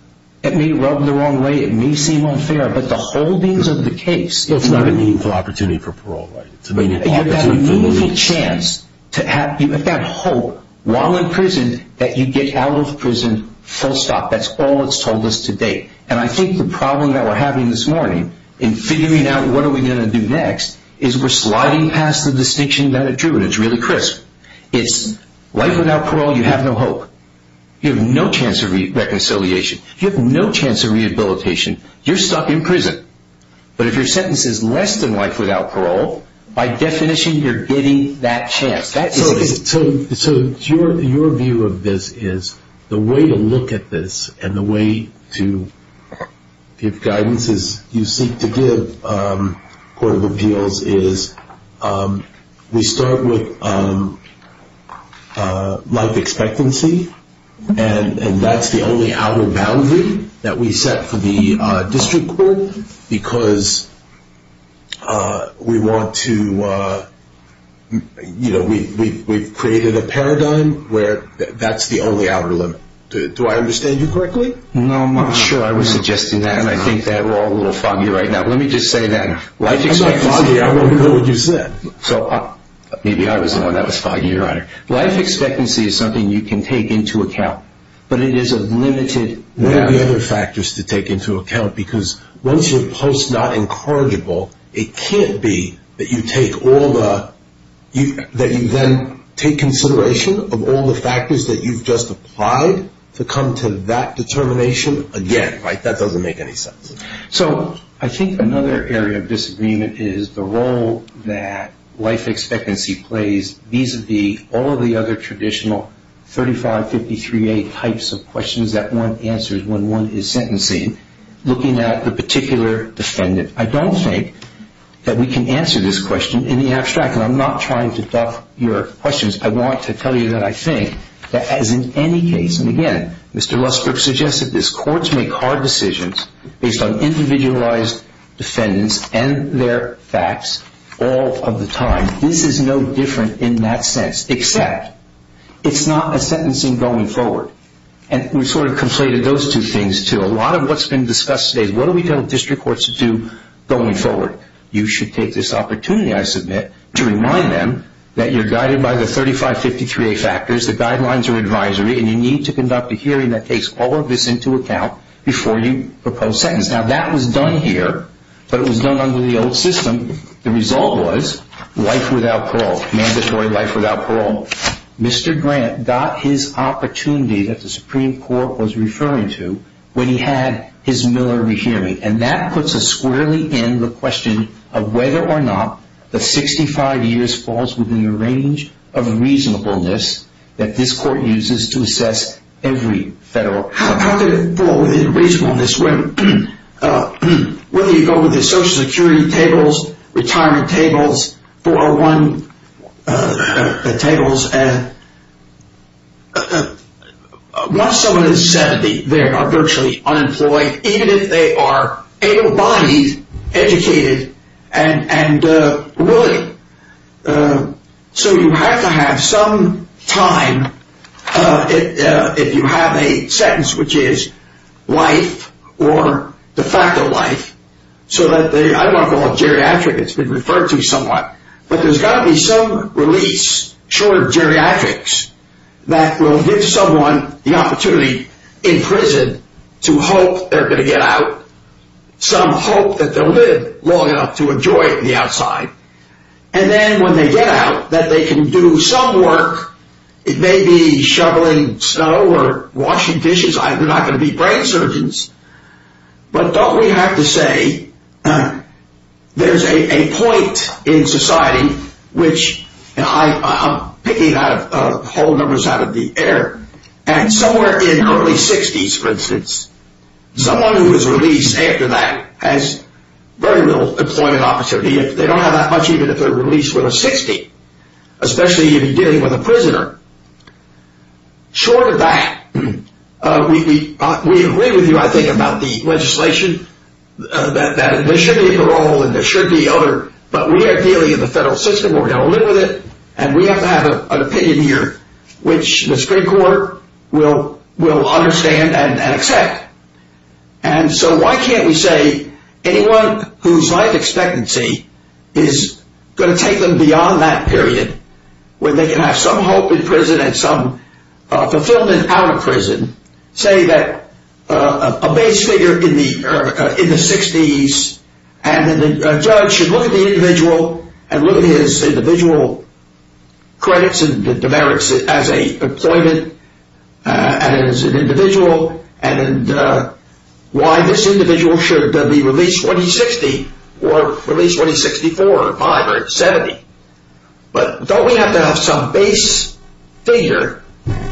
rubbed the wrong way. It may seem unfair. But the holdings of the case— It's not a meaningful opportunity for parole, right? It's a meaningful chance to have hope while in prison that you get out of prison full stop. That's all it's told us to date. And I think the problem that we're having this morning in figuring out what are we going to do next is we're sliding past the distinction that it drew, and it's really crisp. It's life without parole, you have no hope. You have no chance of reconciliation. You have no chance of rehabilitation. You're stuck in prison. But if your sentence is less than life without parole, by definition, you're getting that chance. So your view of this is the way to look at this and the way to give guidance as you seek to give court of appeals is we start with life expectancy, and that's the only outer boundary that we set for the district court because we created a paradigm where that's the only outer limit. Do I understand you correctly? No, I'm not sure I was suggesting that. I think that we're all a little foggy right now. Let me just say that. I'm not foggy. I wonder what you said. Maybe I was the one that was foggy. Life expectancy is something you can take into account, but it is a limited— one of the other factors to take into account because once you post not incorrigible, it can't be that you then take consideration of all the factors that you've just applied to come to that determination again. That doesn't make any sense. So I think another area of disagreement is the role that life expectancy plays vis-a-vis all of the other traditional 3553A types of questions that one answers when one is sentencing, looking at the particular defendant. I don't think that we can answer this question in the abstract, and I'm not trying to buff your questions. I want to tell you that I think that as in any case, and again, Mr. Ruskirk suggested this, courts make hard decisions based on individualized defendants and their facts all of the time. This is no different in that sense, except it's not a sentencing going forward. And we sort of conflated those two things, too. A lot of what's been discussed today, what do we tell district courts to do going forward? You should take this opportunity, I submit, to remind them that you're guided by the 3553A factors, the guidelines are advisory, and you need to conduct a hearing that takes all of this into account before you propose sentence. Now that was done here, but it was done under the old system. The result was life without parole, mandatory life without parole. Mr. Grant got his opportunity that the Supreme Court was referring to when he had his Miller re-hearing, and that puts us squarely in the question of whether or not the 65 years falls within the range of unreasonableness that this court uses to assess every federal defendant. Unreasonableness. Whether you go with the Social Security tables, retirement tables, 401 tables, once someone has said they are virtually unemployed, even if they are able-bodied, educated, and willing, so you have to have some time if you have a sentence which is life or the fact of life. I don't want to call it geriatric, it's been referred to somewhat, but there's got to be some release for geriatrics that will give someone the opportunity in prison to hope they're going to get out, some hope that they'll live long enough to enjoy it on the outside. And then when they get out, that they can do some work, it may be shoveling snow or washing dishes, they're not going to be brain surgeons, but don't we have to say there's a point in society which I'm picking whole numbers out of the air, and somewhere in the early 60s, for instance, someone who is released after that has very little employment opportunity, they don't have that much even if they're released when they're 60, especially if you're dealing with a prisoner. Short of that, we agree with you I think about the legislation, that there should be a parole and there should be other, but we are dealing in the federal system, we're going to live with it, and we have to have an opinion here, which the Supreme Court will understand and accept. And so why can't we say anyone whose life expectancy is going to take them beyond that period, when they can have some hope in prison and some fulfillment out of prison, say that a base figure in the 60s and a judge should look at the individual and look at his individual credits and the merits as a employment, as an individual, and why this individual should be released when he's 60, or released when he's 64, or 75, or 70. But don't we have to have some base figure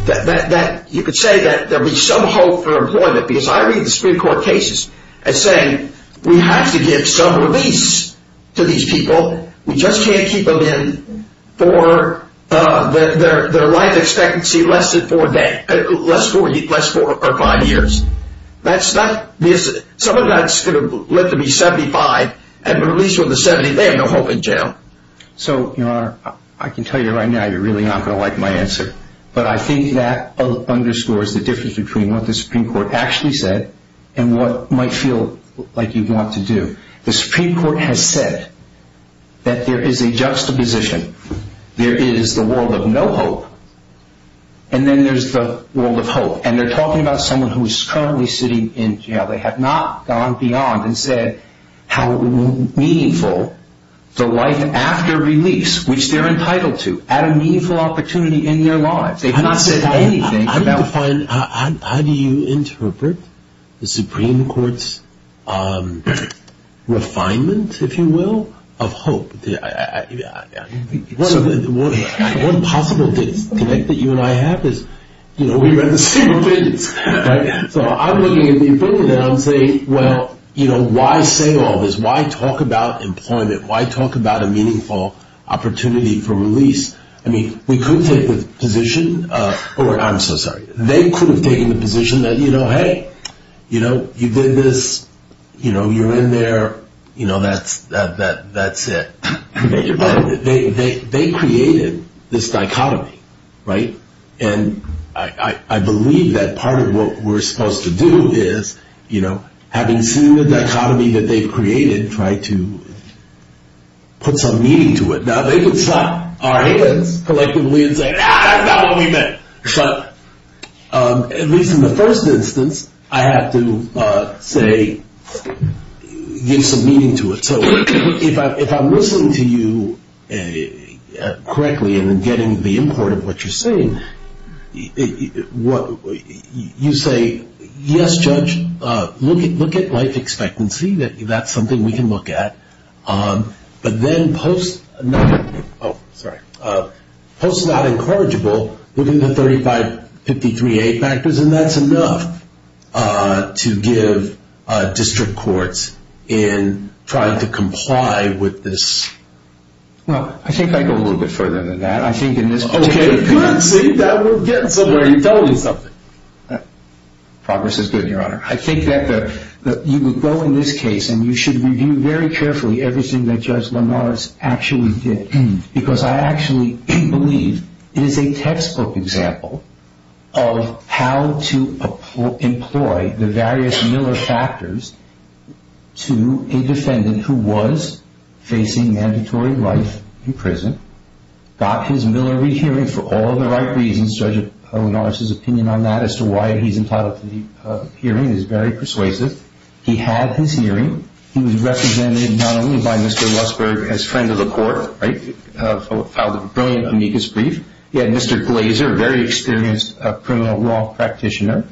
that you could say there would be some hope for employment, because I read the Supreme Court cases as saying we have to give some release to these people, we just can't keep them in for their life expectancy less than four or five years. That's not, someone's not supposed to live to be 75 and released on the 70th, they have no hope in jail. So, Your Honor, I can tell you right now you're really not going to like my answer, but I think that underscores the difference between what the Supreme Court actually said and what might feel like you want to do. The Supreme Court has said that there is a juxtaposition. There is the world of no hope, and then there's the world of hope. And they're talking about someone who is currently sitting in jail. They have not gone beyond and said how meaningful the life after release, which they're entitled to, add a meaningful opportunity in their lives. They've not said anything about it. How do you interpret the Supreme Court's refinement, if you will, of hope? One possible thing, connect that you and I have is, you know, we have the same vision. So I'm looking at these things and I'm saying, well, you know, why say all this? Why talk about employment? Why talk about a meaningful opportunity for release? I mean, we could take the position, or I'm so sorry, they could have taken the position that, you know, hey, you know, you did this, you know, you're in there, you know, that's it. They created this dichotomy, right? And I believe that part of what we're supposed to do is, you know, having seen the dichotomy that they've created, try to put some meaning to it. Now, they can slap our hands collectively and say, ah, that's not what we meant. Shut up. At least in the first instance, I have to say, give some meaning to it. So if I'm listening to you correctly and then getting the import of what you're saying, you say, yes, Judge, look at life expectancy, that's something we can look at. But then post-not encourageable, look at the 3553A factors, and that's enough to give district courts in trying to comply with this. Well, I think I'd go a little bit further than that. I think in this particular case. Okay. We're getting further. You're telling me something. Progress is good, Your Honor. I think that you would go in this case, and you should review very carefully everything that Judge Lamar's actually did, because I actually believe it is a textbook example of how to employ the various Miller factors to a defendant who was facing mandatory life in prison, got his Miller re-hearing for all the right reasons. Judge O'Donnell's opinion on that as to why he's entitled to the hearing is very persuasive. He had his hearing. He was represented not only by Mr. Westberg, his friend of the court, right, who filed a brilliant amicus brief. He had Mr. Glazer, a very experienced criminal law practitioner,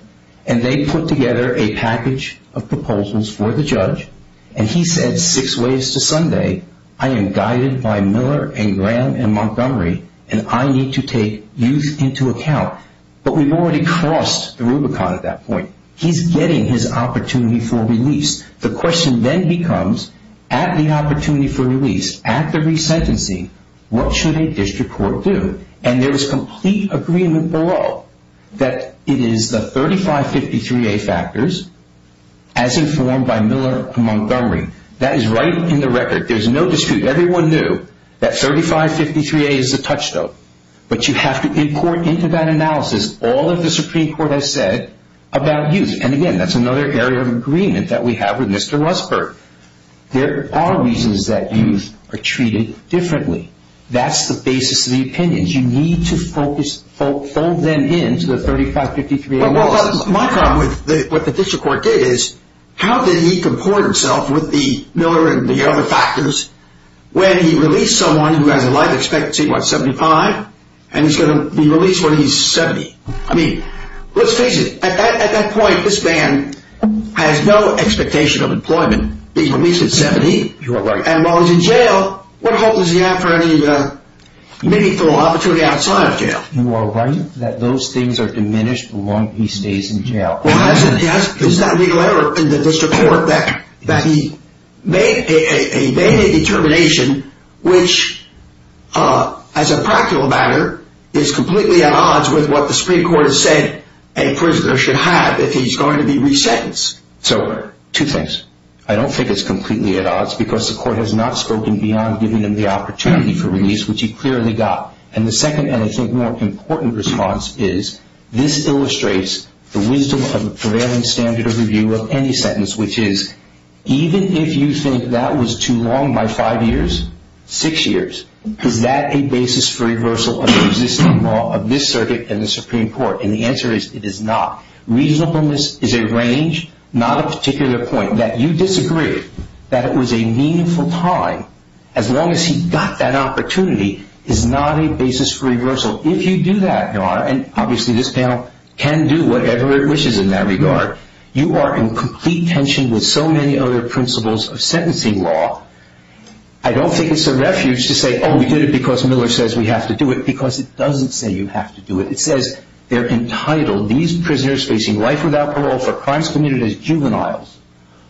and they put together a package of proposals for the judge, and he said six ways to Sunday, I am guided by Miller and Graham and Montgomery, and I need to take youth into account. But we've already crossed the Rubicon at that point. He's getting his opportunity for release. The question then becomes, at the opportunity for release, at the resentencing, what should a district court do? And there is complete agreement below that it is the 3553A factors, as informed by Miller from Montgomery. That is right in the record. There's no dispute. Everyone knew that 3553A is the touchstone. But you have to be poured into that analysis all that the Supreme Court has said about youth. And, again, that's another area of agreement that we have with Mr. Westberg. There are reasons that youth are treated differently. That's the basis of the opinions. You need to focus, fold them into the 3553A. My problem with what the district court did is, how did he comport himself with the Miller and the other factors when he released someone who had a life expectancy of, what, 75? And he's going to be released when he's 70. I mean, let's face it. At that point, this man has no expectation of employment. He's released at 70. You're right. And while he's in jail, what hope does he have for any meaningful opportunity outside of jail? You are right that those things are diminished the longer he stays in jail. It's not legal error in the district court that he made a daily determination which, as a practical matter, is completely at odds with what the Supreme Court has said a prisoner should have if he's going to be re-sentenced. So, two things. I don't think it's completely at odds because the court has not spoken beyond giving him the opportunity for release, which he clearly got. And the second and, I think, more important response is, this illustrates the wisdom of the prevailing standard of review of any sentence, which is, even if you think that was too long by five years, six years, could that be basis for reversal of the existing law of this circuit and the Supreme Court? And the answer is, it is not. Reasonableness is a range, not a particular point. That you disagree that it was a meaningful time, as long as he got that opportunity, is not a basis for reversal. If you do that, Your Honor, and obviously this panel can do whatever it wishes in that regard, you are in complete tension with so many other principles of sentencing law. I don't think it's a refuge to say, oh, we did it because Miller says we have to do it, because it doesn't say you have to do it. It says they're entitled, these prisoners facing life without parole for crimes committed as juveniles,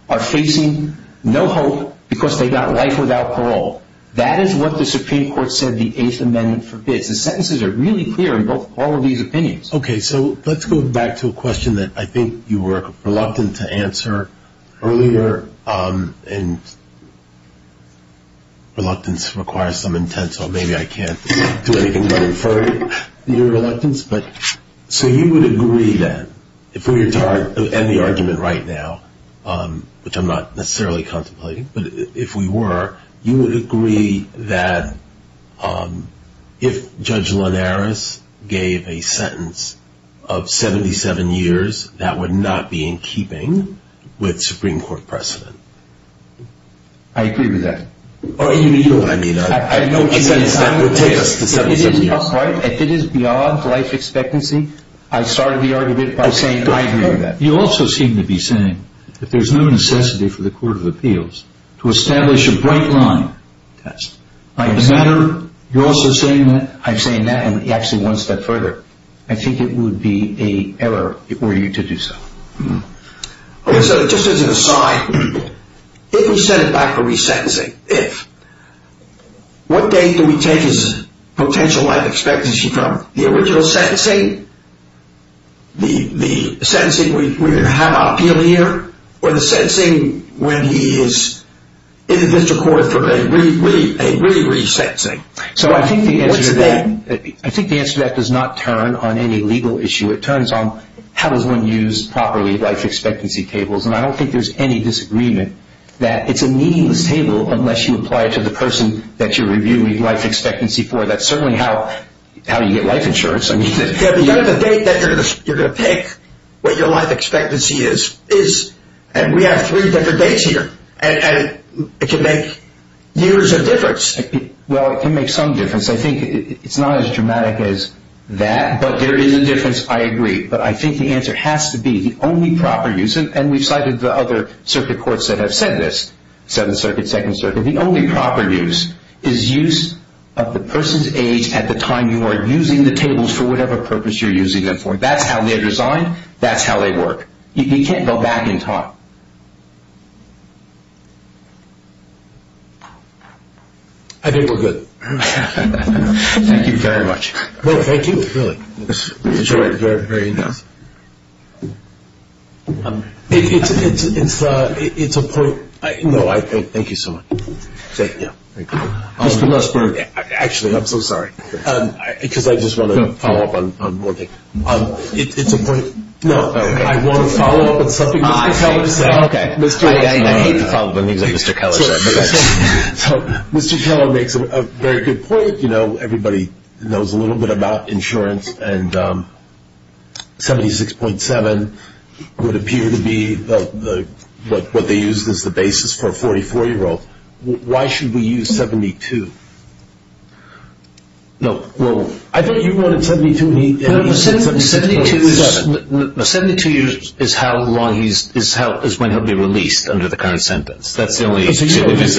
are facing no hope because they got life without parole. That is what the Supreme Court said the Eighth Amendment forbids. The sentences are really clear in all of these opinions. Okay, so let's go back to a question that I think you were reluctant to answer earlier, and reluctance requires some intent, so maybe I can't do anything to defer to your reluctance. So you would agree then, if we were to end the argument right now, which I'm not necessarily contemplating, but if we were, you would agree that if Judge Linares gave a sentence of 77 years, that would not be in keeping with Supreme Court precedent. I agree with that. I know she spent time with Taylor. If it is beyond life expectancy, I started the argument by saying I agree with that. You also seem to be saying that there's no necessity for the Court of Appeals to establish a break-line test. You're also saying that. I'm saying that, and actually one step further, I think it would be an error for you to do so. Okay, so just as an aside, if he sends back a resentencing, if, what date do we take his potential life expectancy from? The original sentencing, the sentencing we have earlier, or the sentencing when he is in the district court for a really brief sentencing? So I think the answer to that does not turn on any legal issue. It turns on how is one used properly, life expectancy tables, and I don't think there's any disagreement that it's a meaningless table unless you apply it to the person that you're reviewing the life expectancy for. That's certainly how you get life insurance. You have the date that you're going to pick what your life expectancy is, and we have three different dates here, and it can make years of difference. Well, it can make some difference. I think it's not as dramatic as that, but there is a difference. I agree, but I think the answer has to be the only proper use, and we've cited the other circuit courts that have said this, Seventh Circuit, Second Circuit. The only proper use is use of the person's age at the time you are using the tables for whatever purpose you're using them for. That's how they're designed. That's how they work. You can't go back and talk. I think we're good. Thank you very much. Thank you. It's a point. No, thank you so much. Actually, I'm so sorry, because I just want to follow up on one thing. It's a point. No, I want to follow up on something, Mr. Keller. Mr. Keller makes a very good point. You know, everybody knows a little bit about insurance, and 76.7 would appear to be what they use as the basis for a 44-year-old. Why should we use 72? No, well, I think you wanted 72. No, 72 is how long he is when he'll be released under the current sentence. That's the only reason. No, that's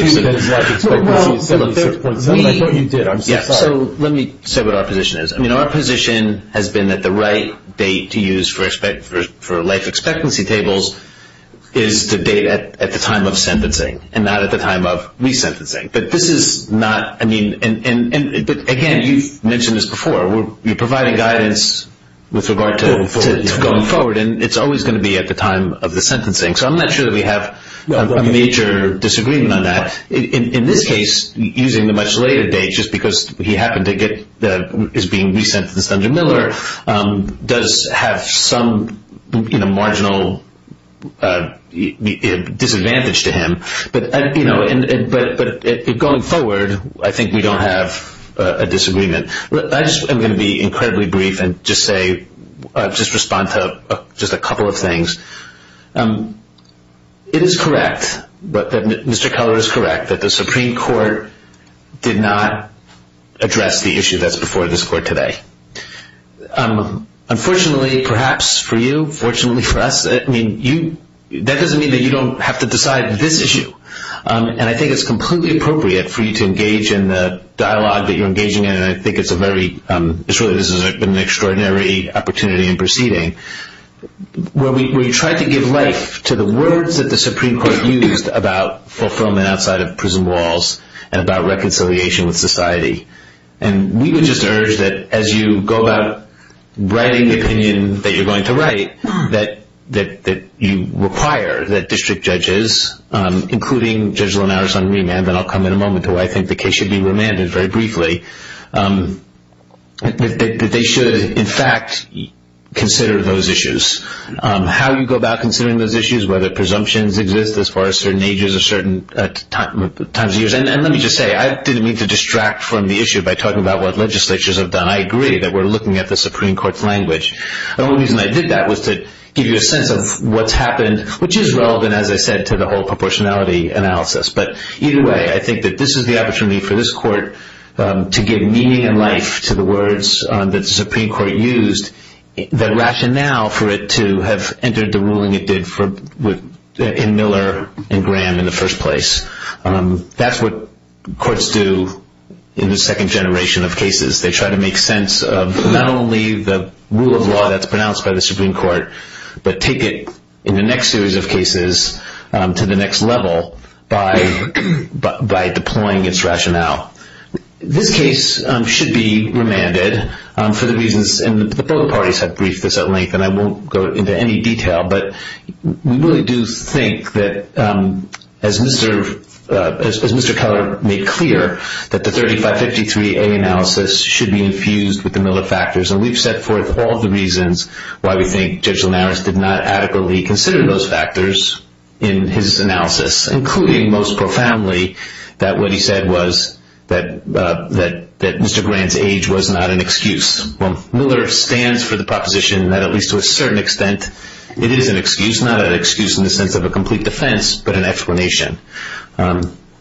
a fair point. I'm not sure you did. I'm sorry. Let me say what our position is. I mean, our position has been that the right date to use for life expectancy tables is the date at the time of sentencing and not at the time of resentencing. Again, you mentioned this before. We're providing guidance with regard to going forward, and it's always going to be at the time of the sentencing. So I'm not sure that we have a major disagreement on that. In this case, using the much later date just because he happened to get his being resentenced under Miller does have some marginal disadvantage to him. But going forward, I think we don't have a disagreement. I'm going to be incredibly brief and just respond to just a couple of things. It is correct, Mr. Keller is correct, that the Supreme Court did not address the issue that's before this court today. Unfortunately, perhaps for you, fortunately for us, that doesn't mean that you don't have to decide this issue. And I think it's completely appropriate for you to engage in the dialogue that you're engaging in, and I think it's a very extraordinary opportunity in proceeding. We tried to give life to the words that the Supreme Court used about fulfillment outside of prison walls and about reconciliation with society. And we would just urge that as you go out writing the opinion that you're going to write that you require that district judges, including Judge Linares on remand, and I'll come in a moment to where I think the case should be remanded very briefly, that they should, in fact, consider those issues. How you go about considering those issues, whether presumptions exist as far as certain ages or certain times of years. And let me just say, I didn't mean to distract from the issue by talking about what legislatures have done. I agree that we're looking at the Supreme Court's language. The only reason I did that was to give you a sense of what's happened, which is relevant, as I said, to the whole proportionality analysis. But either way, I think that this is the opportunity for this court to give meaning and life to the words that the Supreme Court used, the rationale for it to have entered the ruling it did in Miller and Graham in the first place. That's what courts do in the second generation of cases. They try to make sense of not only the rule of law that's pronounced by the Supreme Court, but take it in the next series of cases to the next level by deploying its rationale. This case should be remanded for the reasons that both parties have briefed us at length, and I won't go into any detail. But we really do think that, as Mr. Keller made clear, that the 3553A analysis should be infused with the Miller factors. And we've set forth all the reasons why we think Judge Linares did not adequately consider those factors in his analysis, including most profoundly that what he said was that Mr. Graham's age was not an excuse. Well, Miller stands for the proposition that at least to a certain extent it is an excuse, not an excuse in the sense of a complete defense, but an explanation.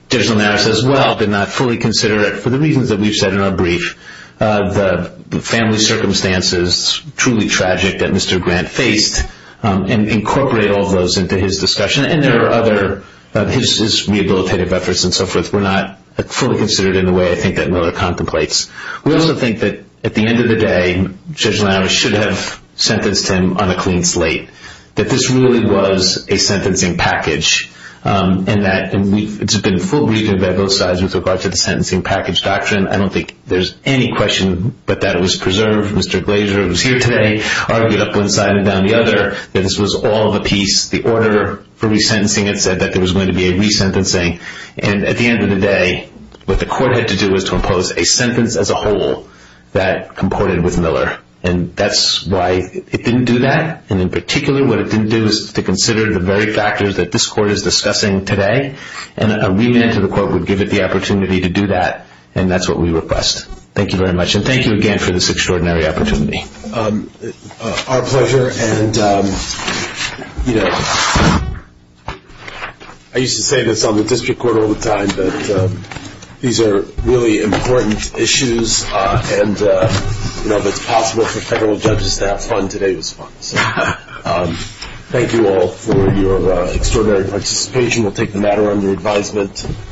Judge Linares, as well, did not fully consider it for the reasons that we've said in our brief, the family circumstances, truly tragic, that Mr. Grant faced, and incorporate all of those into his discussion. And there are other, his rehabilitative efforts and so forth, were not fully considered in the way I think that Miller contemplates. We also think that at the end of the day, Judge Linares should have sentenced him on a clean slate, that this really was a sentencing package, and that it's been full briefing by both sides with regard to the sentencing package doctrine. I don't think there's any question but that it was preserved. Mr. Glazer was here today, argued up one side and down the other that this was all of a piece. The order for resentencing, it said that there was going to be a resentencing. And at the end of the day, what the court had to do was to impose a sentence as a whole that comported with Miller. And that's why it didn't do that. And in particular, what it didn't do is to consider the very factors that this court is discussing today, and a read-in to the court would give it the opportunity to do that, and that's what we request. Thank you very much, and thank you again for this extraordinary opportunity. Thank you very much. Our pleasure, and, you know, I used to say this on the district court all the time, that these are really important issues, and, you know, if it's possible for federal judges to have fun, today was fun. Thank you all for your extraordinary participation. We'll take the matter under advisement.